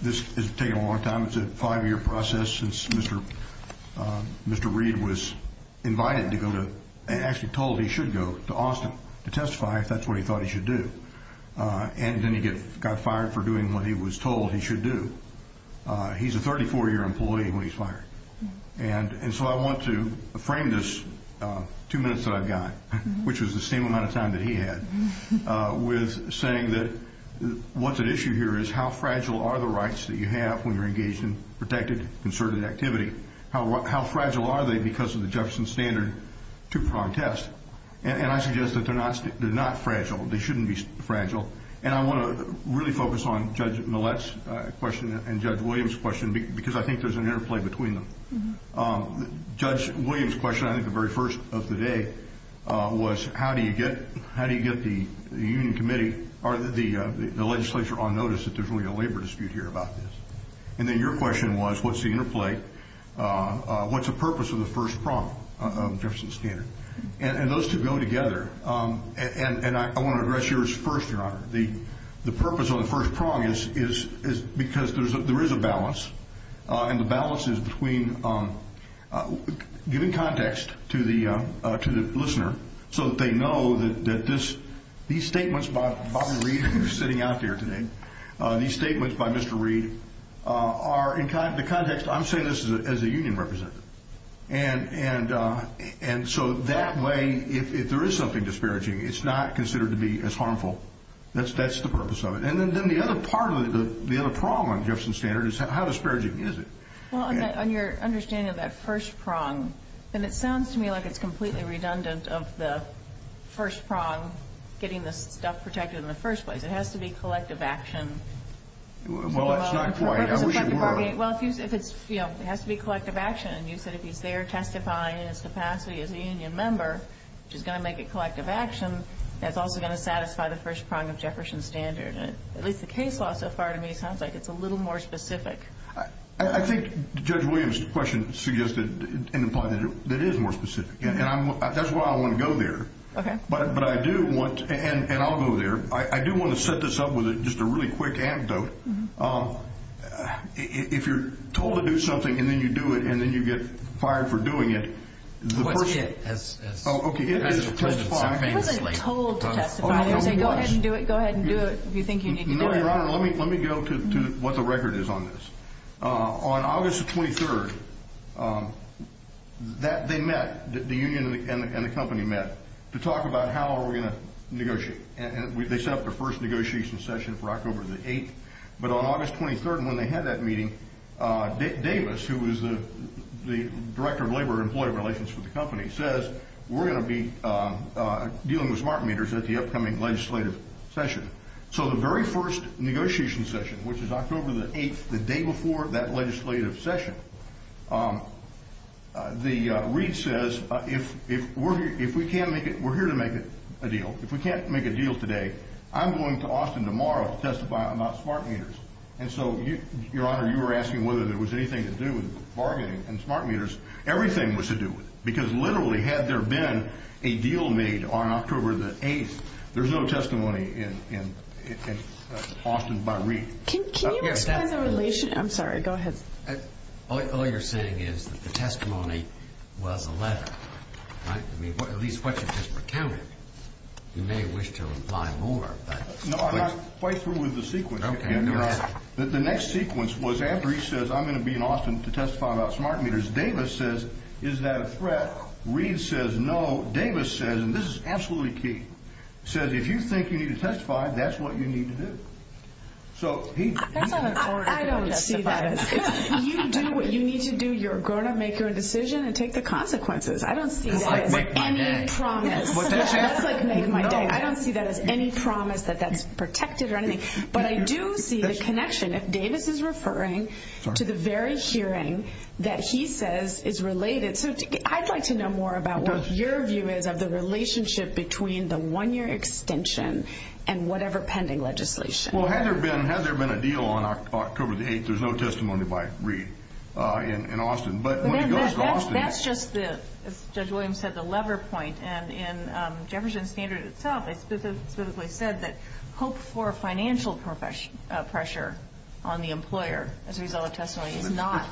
this has taken a long time. It's a five-year process since Mr. Reed was invited to go to, actually told he should go to Austin to testify if that's what he thought he should do. And then he got fired for doing what he was told he should do. He's a 34-year employee when he's fired. And so I want to frame this two-minute-side guy, which was the same amount of time that he had, with saying that what's at issue here is how fragile are the rights that you have when you're engaged in protected, concerted activity? How fragile are they because of the Jefferson standard to protest? And I suggest that they're not fragile. They shouldn't be fragile. And I want to really focus on Judge Millett's question and Judge Williams' question because I think there's an interplay between them. Judge Williams' question I think the very first of the day was, how do you get the union committee or the legislature on notice that there's really a labor dispute here about this? And then your question was, what's the interplay? What's the purpose of the first prompt of the Jefferson standard? And those two go together. And I want to address yours first, Your Honor. The purpose of the first prompt is because there is a balance, and the balance is between giving context to the listener so that they know that these statements by Bobby Reed, who's sitting out there today, these statements by Mr. Reed are in the context, I'm saying this as a union representative. And so that way, if there is something disparaging, it's not considered to be as harmful. That's the purpose of it. And then the other part of it, the other problem with the Jefferson standard is how disparaging is it? Well, on your understanding of that first prompt, then it sounds to me like it's completely redundant of the first prompt, getting the stuff protected in the first place. It has to be collective action. Well, that's not quite how we work. Well, it has to be collective action. You said if you dare testify in the capacity of being a member, which is going to make it collective action, that's also going to satisfy the first prompt of Jefferson standard. At least the case law so far to me sounds like it's a little more specific. I think Judge Williams' question suggests that it is more specific, and that's why I want to go there. Okay. And I'll go there. I do want to set this up with just a really quick anecdote. If you're told to do something, and then you do it, and then you get fired for doing it, the first thing to do is to testify. I wasn't told to testify. Go ahead and do it if you think you can do it. No, Your Honor, let me go to what the record is on this. On August 23rd, they met, the union and the company met, to talk about how are we going to negotiate. They set up their first negotiation session for October the 8th. But on August 23rd, when they had that meeting, Davis, who is the director of labor and employee relations for the company, says we're going to be dealing with smart meters at the upcoming legislative session. So the very first negotiation session, which is October the 8th, the day before that legislative session, the read says if we can't make it, we're here to make a deal. If we can't make a deal today, I'm going to Austin tomorrow to testify about smart meters. And so, Your Honor, you were asking whether there was anything to do with bargaining and smart meters. Everything was to do with it. Because literally, had there been a deal made on October the 8th, there's no testimony in Austin by read. Can you explain the relation? I'm sorry, go ahead. All you're saying is the testimony was a letter. At least what you just recounted. You may wish to imply more. No, I got quite through with the sequence. The next sequence was after he says I'm going to be in Austin to testify about smart meters, Davis says is that a threat? Read says no. Davis says, and this is absolutely key, says if you think you need to testify, that's what you need to do. I don't see that as a threat. If you do what you need to do, you're going to make your decision and take the consequences. I don't see that as any promise. I don't see that as any promise that that's protected or anything. But I do see the connection. If Davis is referring to the very hearing that he says is related, I'd like to know more about what your view is of the relationship between the one-year extension and whatever pending legislation. Well, has there been a deal on October the 8th? There's no testimony by Read in Austin. That's just it. Judge Williams said the lever point. And Jefferson Standard itself specifically said that hope for financial pressure on the employer as a result of testimony is not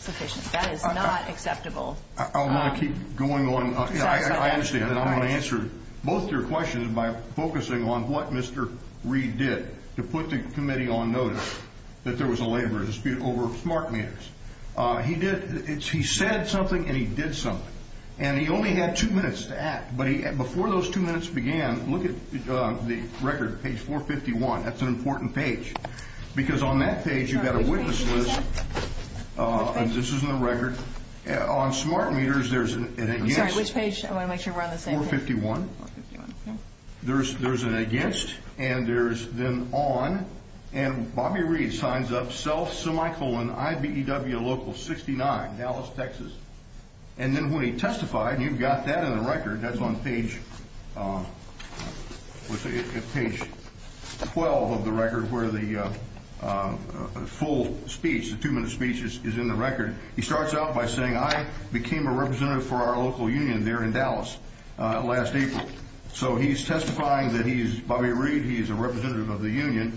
sufficient. That is not acceptable. I want to keep going on. I understand. I'm going to answer both your questions by focusing on what Mr. Read did to put the committee on notice that there was a labor dispute over smart meters. He said something and he did something. And he only had two minutes to add. But before those two minutes began, look at the record, page 451. That's an important page. Because on that page you've got a witness list, and this is the record. On smart meters, there's an against. Which page? I want to make sure we're on the same page. 451. There's an against, and there's then on. And Bobby Read signs up self, semicolon, IBEW local 69, Dallas, Texas. And then when he testified, you've got that in the record. That's on page 12 of the record where the full speech, the two-minute speech is in the record. He starts out by saying I became a representative for our local union there in Dallas last April. So he's testifying that he's Bobby Read. He's a representative of the union.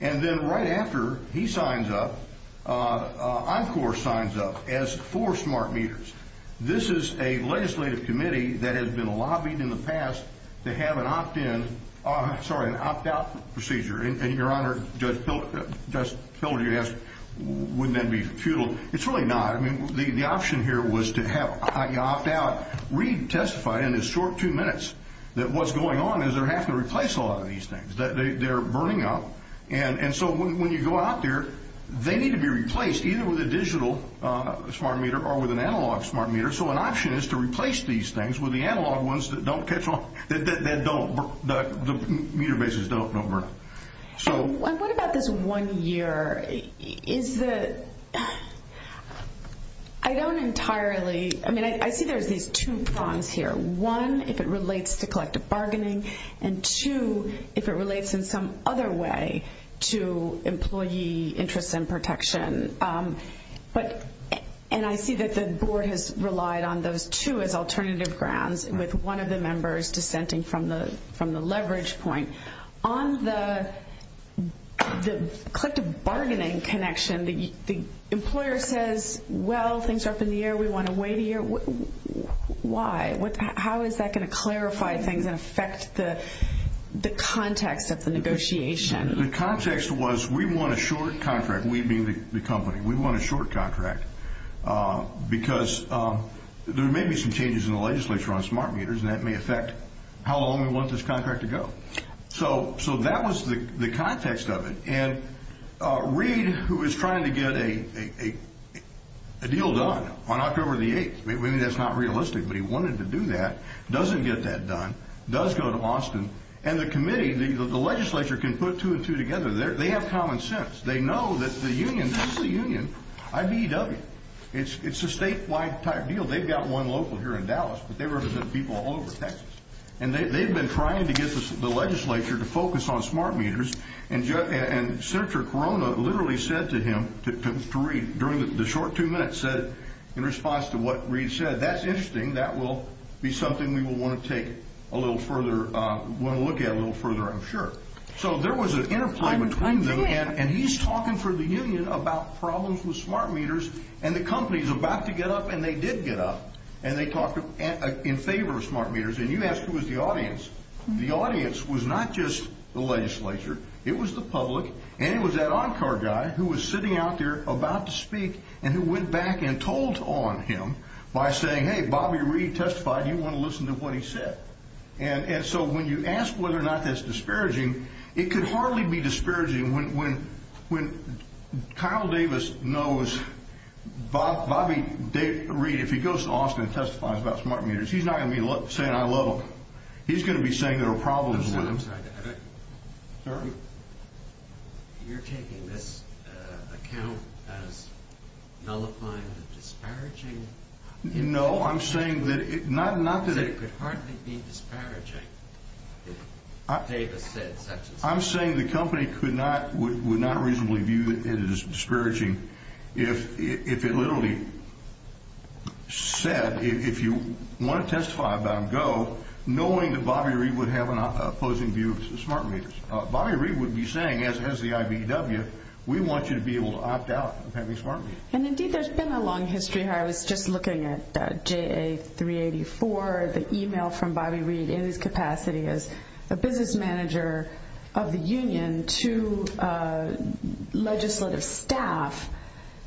And then right after he signs up, ENCOR signs up as for smart meters. This is a legislative committee that has been lobbied in the past to have an opt-in, sorry, an opt-out procedure. And, Your Honor, Judge Pilger asked wouldn't that be futile. It's really not. I mean, the option here was to have you opt out. Read testified in his short two minutes that what's going on is they're having to replace a lot of these things. They're burning up. And so when you go out there, they need to be replaced either with a digital smart meter or with an analog smart meter. So an option is to replace these things with the analog ones that don't pick up, that don't, the meter bases don't burn. And what about this one year? Is the, I don't entirely, I mean, I see there's these two prongs here. One, if it relates to collective bargaining, and two, if it relates in some other way to employee interest and protection. But, and I see that the board has relied on those two as alternative grounds with one of the members dissenting from the leverage point. On the collective bargaining connection, the employer says, well, things are up in the air. We want to wait a year. Why? How is that going to clarify things and affect the context of the negotiation? The context was we want a short contract, we being the company. We want a short contract. Because there may be some changes in the legislature on smart meters, and that may affect how long we want this contract to go. So that was the context of it. And Reid, who is trying to get a deal done on October the 8th, and it's not realistic, but he wanted to do that, doesn't get that done, does go to Austin. And the committee, the legislature can put two and two together. They have common sense. They know that the union, this is a union, IBEW. It's a statewide type deal. They've got one local here in Dallas, but they work with people all over Texas. And they've been trying to get the legislature to focus on smart meters, and Senator Corona literally said to him, to Reid, during the short two minutes, said, in response to what Reid said, that's interesting. That will be something we will want to take a little further, want to look at a little further, I'm sure. So there was an interplay between them, and he's talking for the union about problems with smart meters, and the company is about to get up, and they did get up. And they talked in favor of smart meters. And you asked who was the audience. The audience was not just the legislature. It was the public, and it was that Encore guy who was sitting out there about to speak, and who went back and told on him by saying, hey, Bobby Reid testified. You want to listen to what he said. And so when you ask whether or not that's disparaging, it could hardly be disparaging when Kyle Davis knows Bobby Reid, if he goes to Austin and testifies about smart meters, he's not going to be saying I love them. He's going to be saying there are problems with them. Sorry? You're taking this account as nullifying the disparaging? No, I'm saying that it could hardly be disparaging. I'm saying the company would not reasonably view it as disparaging if it literally said, if you want to testify about Go, knowing that Bobby Reid would have an opposing view of smart meters. Bobby Reid would be saying, as the IBW, we want you to be able to opt out of having smart meters. And, indeed, there's been a long history. I was just looking at JA384, the email from Bobby Reid in his capacity as a business manager of the union to legislative staff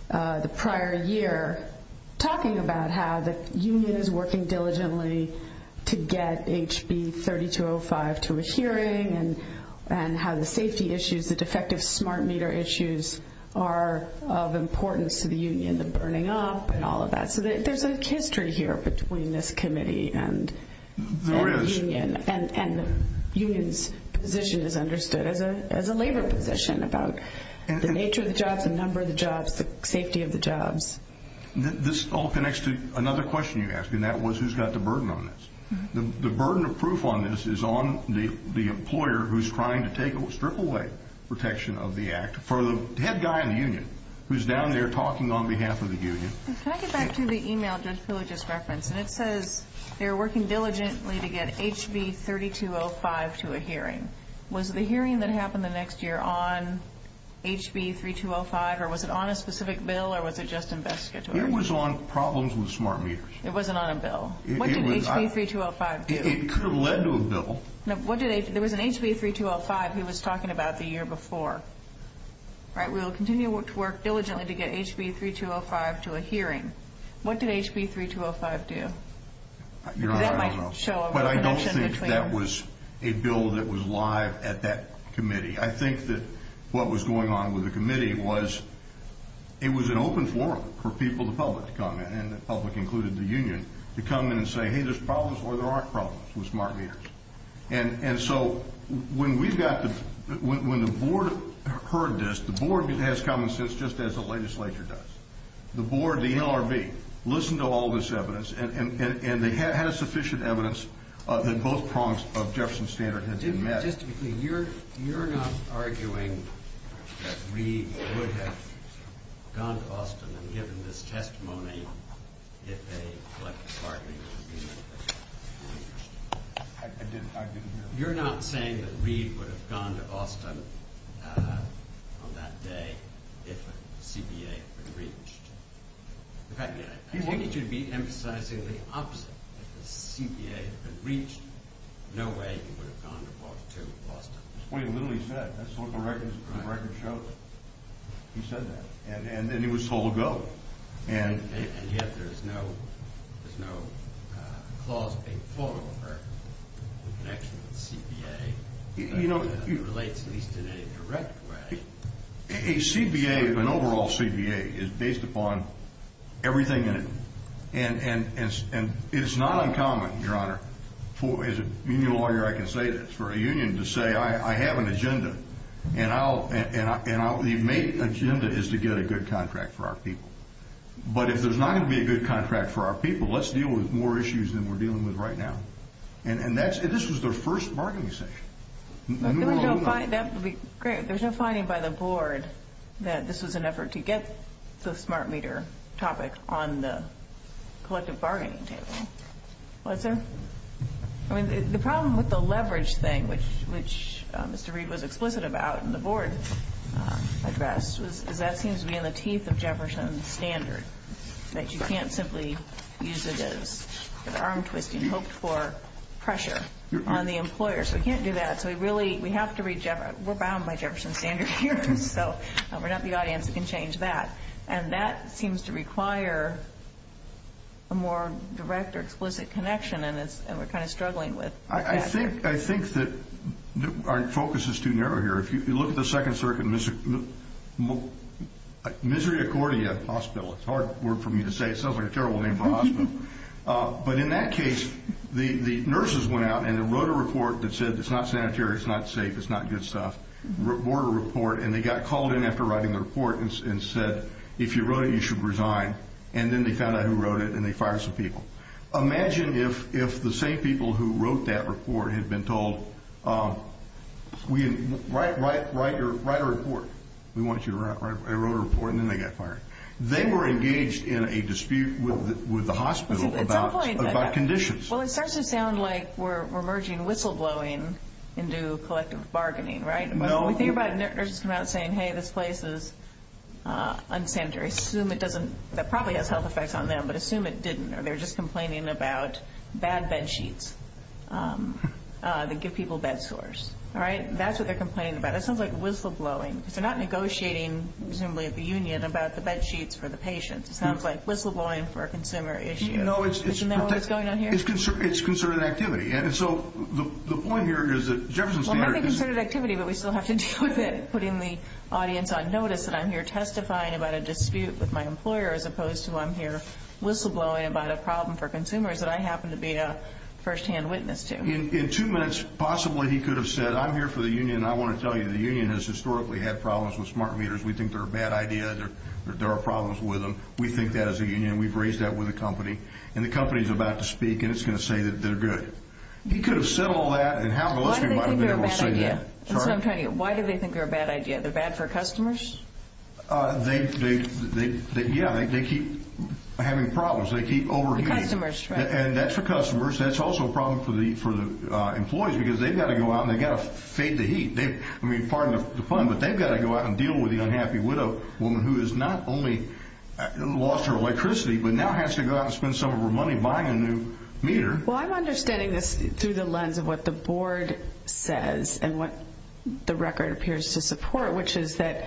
the prior year, talking about how the union is working diligently to get HB3205 to a hearing, and how the safety issues, the defective smart meter issues are of importance to the union, the burning up and all of that. So there's a history here between this committee and the union, and the union's position is understood as a labor position about the nature of the job, the number of the jobs, the safety of the jobs. This all connects to another question you asked, and that was, who's got the burden on this? The burden of proof on this is on the employer who's trying to strip away protection of the act for the head guy in the union, who's down there talking on behalf of the union. Can I get back to the email that Phil just referenced? It says they're working diligently to get HB3205 to a hearing. Was the hearing that happened the next year on HB3205, or was it on a specific bill, or was it just invested? It was on problems with smart meters. It wasn't on a bill. What did HB3205 do? It could have led to a bill. There was an HB3205 he was talking about the year before. We will continue to work diligently to get HB3205 to a hearing. What did HB3205 do? I don't think that was a bill that was live at that committee. I think that what was going on with the committee was it was an open forum for people, the public to come in, and the public included the union, to come in and say, hey, there's problems or there aren't problems with smart meters. And so when the board heard this, the board has come to this just as the legislature does. The board, the LRB, listened to all this evidence, and they had sufficient evidence that both prongs of Jefferson's standard had been met. You're not arguing that Reed would have gone to Boston and given this testimony if a smart meter had been used. You're not saying that Reed would have gone to Boston on that day if a CPA had reached. In fact, I think it should be emphasized that it was the opposite. If a CPA had reached, no way he would have gone to Boston. That's what he literally said. That's what the record shows. He said that. And it was so to go. And yet there's no clause being put over the connection with the CPA. It doesn't relate at least in any direct way. A CPA, an overall CPA, is based upon everything in it. And it's not uncommon, Your Honor, as a union lawyer I can say this, for a union to say, I have an agenda. And the main agenda is to get a good contract for our people. But if there's not going to be a good contract for our people, let's deal with more issues than we're dealing with right now. And this was their first bargaining session. That would be great. There's no finding by the board that this was an effort to get the smart meter topic on the collective bargaining table. Was there? I mean, the problem with the leverage thing, which Mr. Reed was explicit about and the board addressed, was that seems to be in the teeth of Jefferson's standard, that you can't simply use it as an arm twist. You hoped for pressure on the employer. So we can't do that. So we really have to reach out. We're bound by Jefferson's standards here. So we're not the audience. We can change that. And that seems to require a more direct or explicit connection. And we're kind of struggling with that. I think that our focus is too narrow here. If you look at the Second Circuit, misery according to the hospital. It sounds like a terrible name for a hospital. But in that case, the nurses went out and they wrote a report that said it's not sanitary, it's not safe, it's not good stuff, wrote a report, and they got called in after writing the report and said, if you wrote it, you should resign. And then they found out who wrote it and they fired some people. Imagine if the same people who wrote that report had been told, write a report. We want you to write a report. And then they got fired. They were engaged in a dispute with the hospital about conditions. Well, it starts to sound like we're merging whistleblowing into collective bargaining, right? No. When we think about nurses coming out and saying, hey, this place is unsanitary, assume it doesn't probably have health effects on them, but assume it didn't. Or they're just complaining about bad bed sheets that give people bed sores. All right? That's what they're complaining about. It sounds like whistleblowing. They're not negotiating, presumably at the union, about the bed sheets for the patient. It sounds like whistleblowing for a consumer issue. Isn't that what's going on here? It's concerted activity. And so the point here is that Jefferson Center is ñ Well, I think it's concerted activity, but we still have to put in the audience on notice that I'm here testifying about a dispute with my employer as opposed to I'm here whistleblowing about a problem for consumers that I happen to be a firsthand witness to. In two minutes, possibly he could have said, I'm here for the union, and I want to tell you the union has historically had problems with smart meters. We think they're a bad idea. There are problems with them. We think that as a union. We've raised that with the company. And the company is about to speak, and it's going to say that they're good. He could have said all that, and how many of those people might have been able to say that? Why do they think they're a bad idea? They're bad for customers? Yeah, they keep having problems. They keep overheating. Customers, right. And that's for customers. That's also a problem for the employees because they've got to go out, and they've got to fade the heat. I mean, pardon the pun, but they've got to go out and deal with the unhappy widow, a woman who has not only lost her electricity, but now has to go out and spend some of her money buying a new meter. Well, I'm understanding this through the lens of what the board says and what the record appears to support, which is that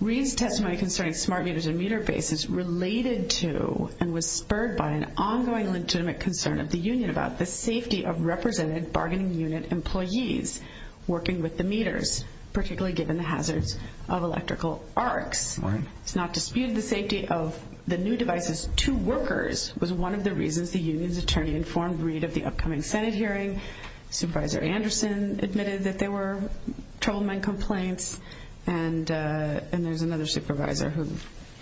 Reid's testimony concerning smart meters and meter bases related to and was spurred by an ongoing legitimate concern of the union about the safety of represented bargaining unit employees working with the meters, particularly given the hazards of electrical arcs. Right. It's not disputed the safety of the new devices to workers was one of the reasons the union's attorney informed Reid at the upcoming Senate hearing. Supervisor Anderson admitted that there were troubleman complaints, and there's another supervisor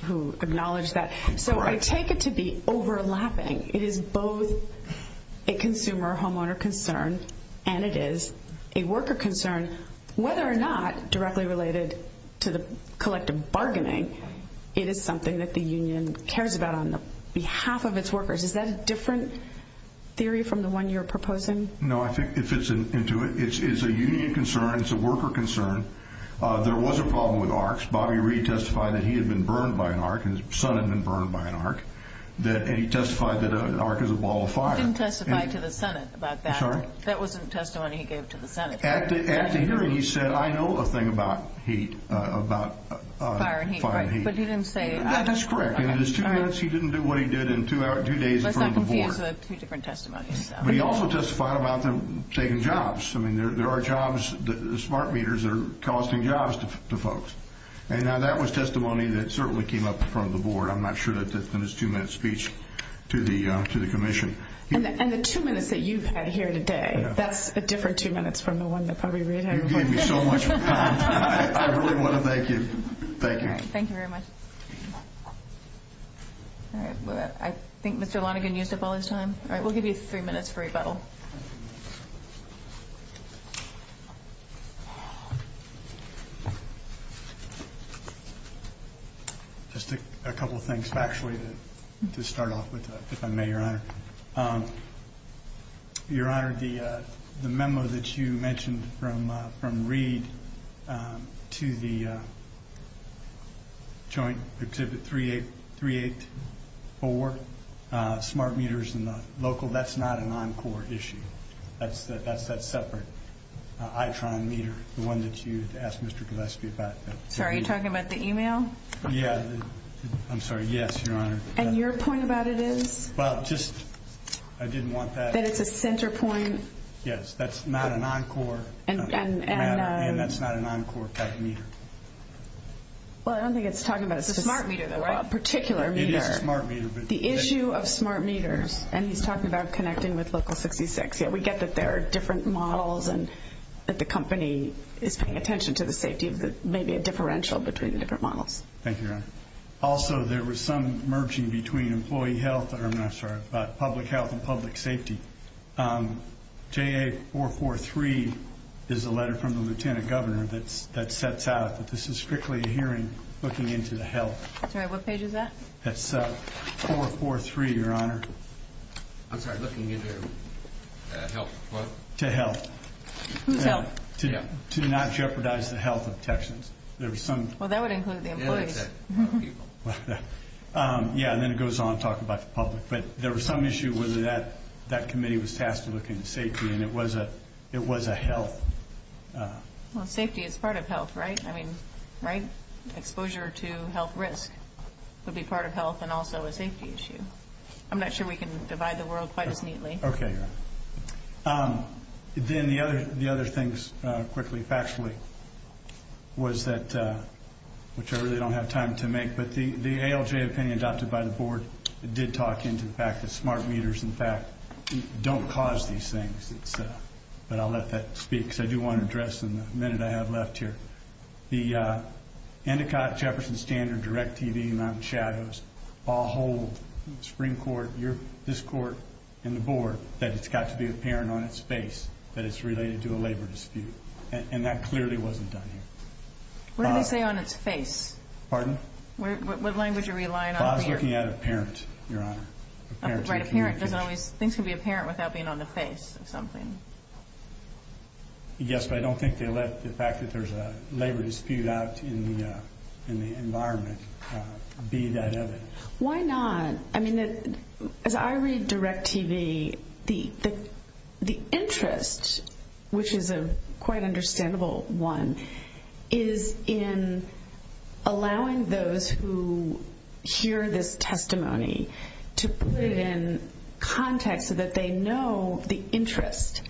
who acknowledged that. Right. So I take it to be overlapping. It is both a consumer-homeowner concern and it is a worker concern, whether or not directly related to the collective bargaining, it is something that the union cares about on behalf of its workers. Is that a different theory from the one you're proposing? No, I think it fits into it. It's a union concern. It's a worker concern. There was a problem with arcs. Bobby Reid testified that he had been burned by an arc and his son had been burned by an arc. And he testified that an arc is a ball of fire. He didn't testify to the Senate about that. That wasn't testimony he gave to the Senate. At the hearing, he said, I know a thing about heat, about fire and heat. But he didn't say it. That's correct. In his two minutes, he didn't do what he did in two days in front of the board. There's two different testimonies to that. But he also testified about them saving jobs. I mean, there are jobs, the smart meters are costing jobs to folks. Now, that was testimony that certainly came up in front of the board. I'm not sure that it's in his two-minute speech to the commission. And the two minutes that you've had here today, that's a different two minutes from the one that Bobby Reid had. You gave me so much time. I really want to thank you. Thank you. Thank you very much. I think Mr. Lonegan used up all his time. We'll give you three minutes for rebuttal. Just a couple of things, actually, to start off with, if I may, Your Honor. Your Honor, the memo that you mentioned from Reid to the joint exhibit 384, smart meters and the local, that's not an Encore. It's not an Encore. That's a different issue. That's separate. I found meter, the one that you asked Mr. Gillespie about. Sorry, are you talking about the email? Yeah. I'm sorry. Yes, Your Honor. And your point about it is? Well, just I didn't want that. That it's a center point? Yes. That's not an Encore. And that's not an Encore type meter. Well, I don't think it's talking about it. It's a smart meter, though, right? A particular meter. It is a smart meter. The issue of smart meters. And he's talking about connecting with Local 66. Yeah, we get that there are different models, and that the company is paying attention to the safety. There may be a differential between the different models. Thank you, Your Honor. Also, there was some merging between employee health, I'm sorry, about public health and public safety. JA443 is a letter from the Lieutenant Governor that sets out that this is strictly a hearing looking into the health. What page is that? That's 443, Your Honor. I'm sorry, looking into health. To health. Who's health? To not jeopardize the health of Texans. Well, that would include the employees. Yeah, and then it goes on to talk about the public. But there was some issue whether that committee was tasked to look into safety, and it was a health. Well, safety is part of health, right? I mean, right? Exposure to health risk would be part of health and also a safety issue. I'm not sure we can divide the world quite as neatly. Okay. Then the other things, quickly, factually, was that, which I really don't have time to make, but the ALJ opinion adopted by the Board did talk into the fact that smart leaders, in fact, don't cause these things. But I'll let that speak, because I do want to address them the minute I have left here. The Endicott, Jefferson, Standard, DirecTV, Ron Chavez, Paul Holt, Supreme Court, this Court, and the Board, said it's got to be apparent on its face that it's related to a labor dispute. And that clearly wasn't done here. What did they say on its face? Pardon? What language are we relying on here? I was looking at apparent, Your Honor. That's right, apparent. Things can be apparent without being on the face of something. Yes, but I don't think they let the fact that there's a labor dispute out in the environment be that evidence. Why not? I mean, as I read DirecTV, the interest, which is a quite understandable one, is in allowing those who hear this testimony to put it in context so that they know the interest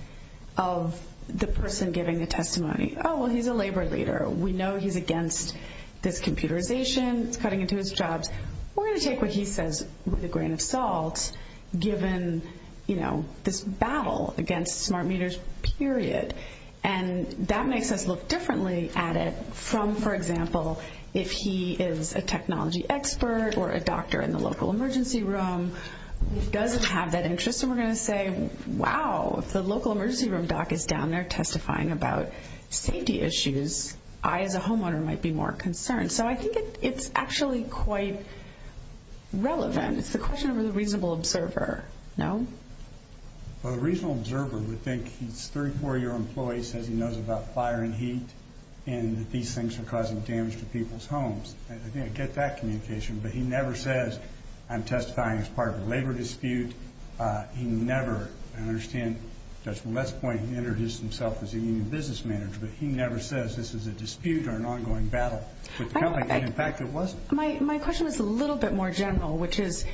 of the person giving the testimony. Oh, well, he's a labor leader. We know he's against this computerization, cutting into his jobs. We're going to take what he says with a grain of salt, given this battle against smart meters, period. And that makes us look differently at it from, for example, if he is a technology expert or a doctor in the local emergency room who doesn't have that interest, and we're going to say, wow, if the local emergency room doc is down there testifying about safety issues, I, the homeowner, might be more concerned. So I think it's actually quite relevant. It's a question of a reasonable observer. No? Well, a reasonable observer would think he's a 34-year employee, says he knows about fire and heat, and that these things are causing damage to people's homes. I didn't get that communication, but he never says, I'm testifying as part of a labor dispute. He never, and I understand Judge Millett's point, he introduced himself as a union business manager, but he never says this is a dispute or an ongoing battle. In fact, it wasn't. My question is a little bit more general, which is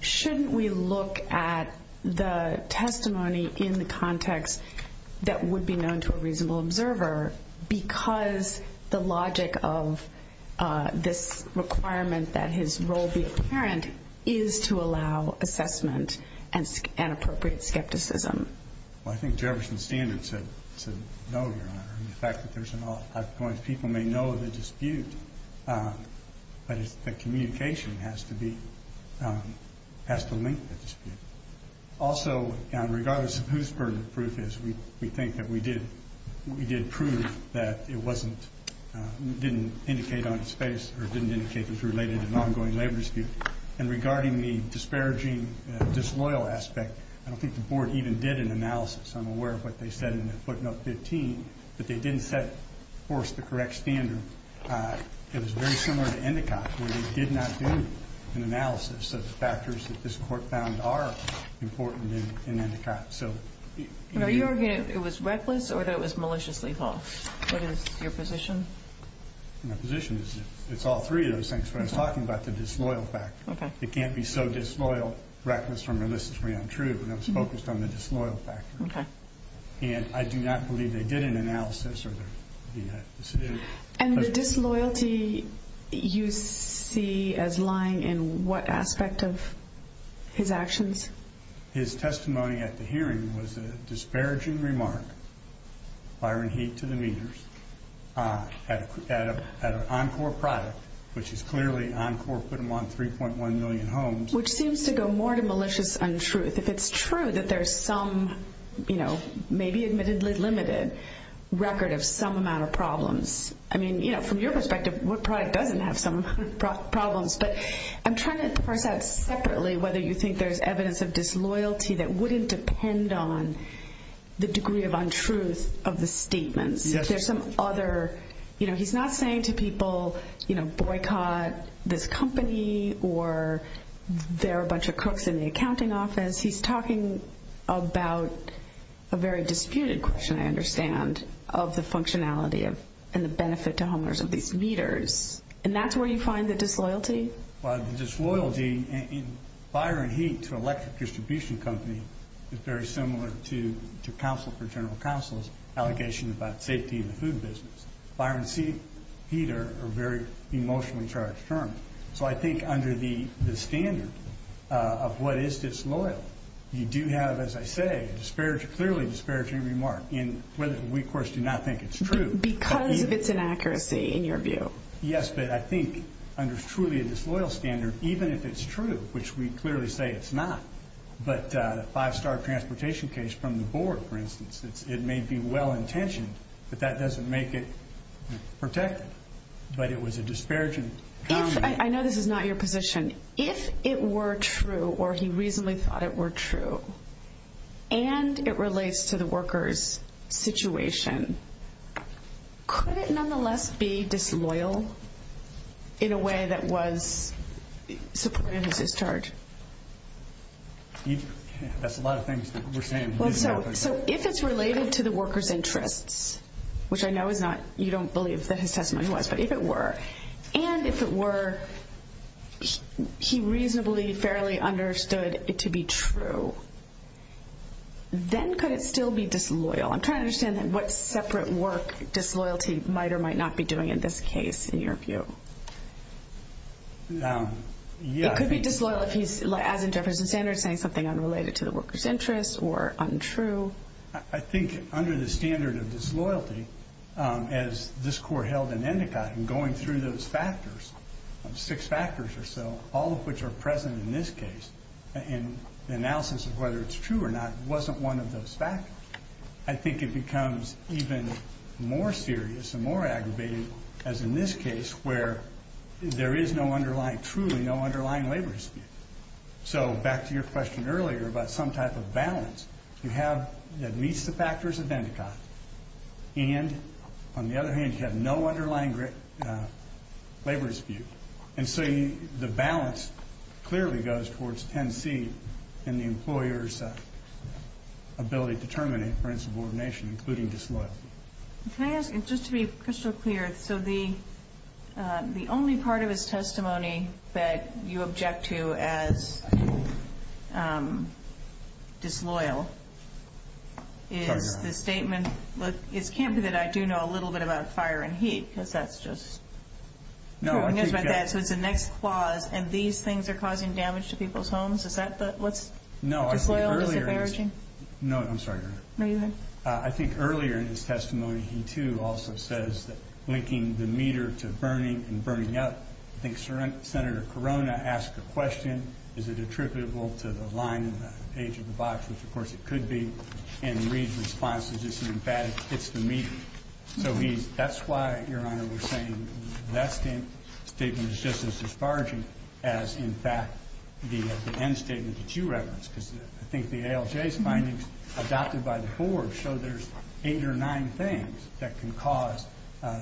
shouldn't we look at the testimony in the context that would be known to a this requirement that his role be apparent is to allow assessment and appropriate skepticism? Well, I think there are some standards to know, Your Honor, and the fact that people may know of a dispute, but the communication has to be, has to link the dispute. Also, regardless of whose burden of proof it is, we think that we did prove that it wasn't, didn't indicate on its face or didn't indicate it was related to an ongoing labor dispute. And regarding the disparaging disloyal aspect, I don't think the board even did an analysis. I'm aware of what they said in the footnote 15, but they didn't set forth the correct standard that is very similar to Endicott, where they did not do an analysis of the factors that this court found are important in Endicott. Were you arguing that it was reckless or that it was maliciously false? What is your position? My position is it's all three of those things, but I'm talking about the disloyal factor. It can't be so disloyal, reckless, or maliciously untrue, but I was focused on the disloyal factor. And I do not believe they did an analysis of the dispute. And the disloyalty you see as lying in what aspect of his actions? His testimony at the hearing was a disparaging remark, fire and heat to the readers, at an Encore product, which is clearly Encore putting them on 3.1 million homes. Which seems to go more to malicious untruth. If it's true that there's some, you know, maybe admittedly limited record of some amount of problems, I mean, you know, from your perspective, what product doesn't have some problems? But I'm trying to part that separately, whether you think there's evidence of disloyalty that wouldn't depend on the degree of untruth of the statement. There's some other, you know, he's not saying to people, you know, boycott this company or they're a bunch of crooks in the accounting office. He's talking about a very disputed question, I understand, of the functionality and the benefit to homeowners of these readers. And that's where you find the disloyalty? Well, the disloyalty in fire and heat to electric distribution company is very similar to counsel for general counsel's allegation about safety in the food business. Fire and heat are very emotionally charged terms. So I think under the standard of what is disloyal, you do have, as I say, a clearly disparaging remark in whether we, of course, do not think it's true. Because of this inaccuracy, in your view? Yes, but I think under truly a disloyal standard, even if it's true, which we clearly say it's not, but a five-star transportation case from the board, for instance, it may be well-intentioned, but that doesn't make it protected. But it was a disparaging comment. I know this is not your position. If it were true, or he reasonably thought it were true, and it relates to the worker's situation, could it nonetheless be disloyal in a way that was supportive of his charge? That's a lot of things that we're saying. So if it's related to the worker's interests, which I know is not, you don't believe that his testimony was, but if it were, and if it were he reasonably, fairly understood it to be true, then could it still be disloyal? I'm trying to understand what separate work disloyalty might or might not be doing in this case, in your view. It could be disloyal if he's, as in Jefferson Sanders, saying something unrelated to the worker's interests or untrue. I think under the standard of disloyalty, as this court held in Endicott, and going through those factors, six factors or so, all of which are present in this case, and the analysis of whether it's true or not wasn't one of those factors, I think it becomes even more serious and more aggravating, as in this case, where there is no underlying, truly no underlying labor dispute. So back to your question earlier about some type of balance to have that meets the factors of Endicott, and on the other hand you have no underlying labor dispute. And so the balance clearly goes towards 10C and the employer's ability to terminate parental subordination, including disloyalty. Can I ask, just to be crystal clear, so the only part of his testimony that you object to as disloyal is the statement, it can't be that I do know a little bit about fire and heat, because that's just, so it's the next clause, and these things are causing damage to people's homes? Is that what's disloyal and disparaging? No, I'm sorry. I think earlier in his testimony, he, too, also says that linking the meter to burning and burning up, I think Senator Corona asked the question, is it attributable to the line on the page of the box, which, of course, it could be, and Reed's response is, in fact, it's the meter. So that's why, Your Honor, we're saying that statement is just as disparaging as, in fact, the end statement that you referenced, so there's eight or nine things that can cause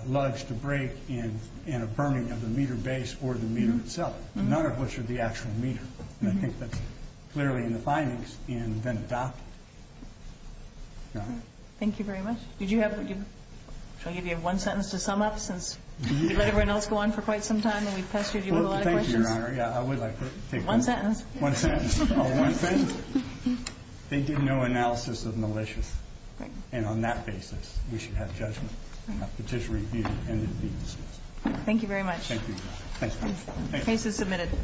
lugs to break in a burning of the meter base or the meter itself, none of which are the actual meter, and I think that's clearly in the findings in Vendetta. Thank you very much. Did you have, I'll give you one sentence to sum up, since we've let everyone else go on for quite some time and we've pressured you with a lot of questions. Thank you, Your Honor. One sentence. One sentence. One sentence. They did no analysis of malicious, and on that basis, we should have judgment. Thank you very much. Thank you. Case is submitted.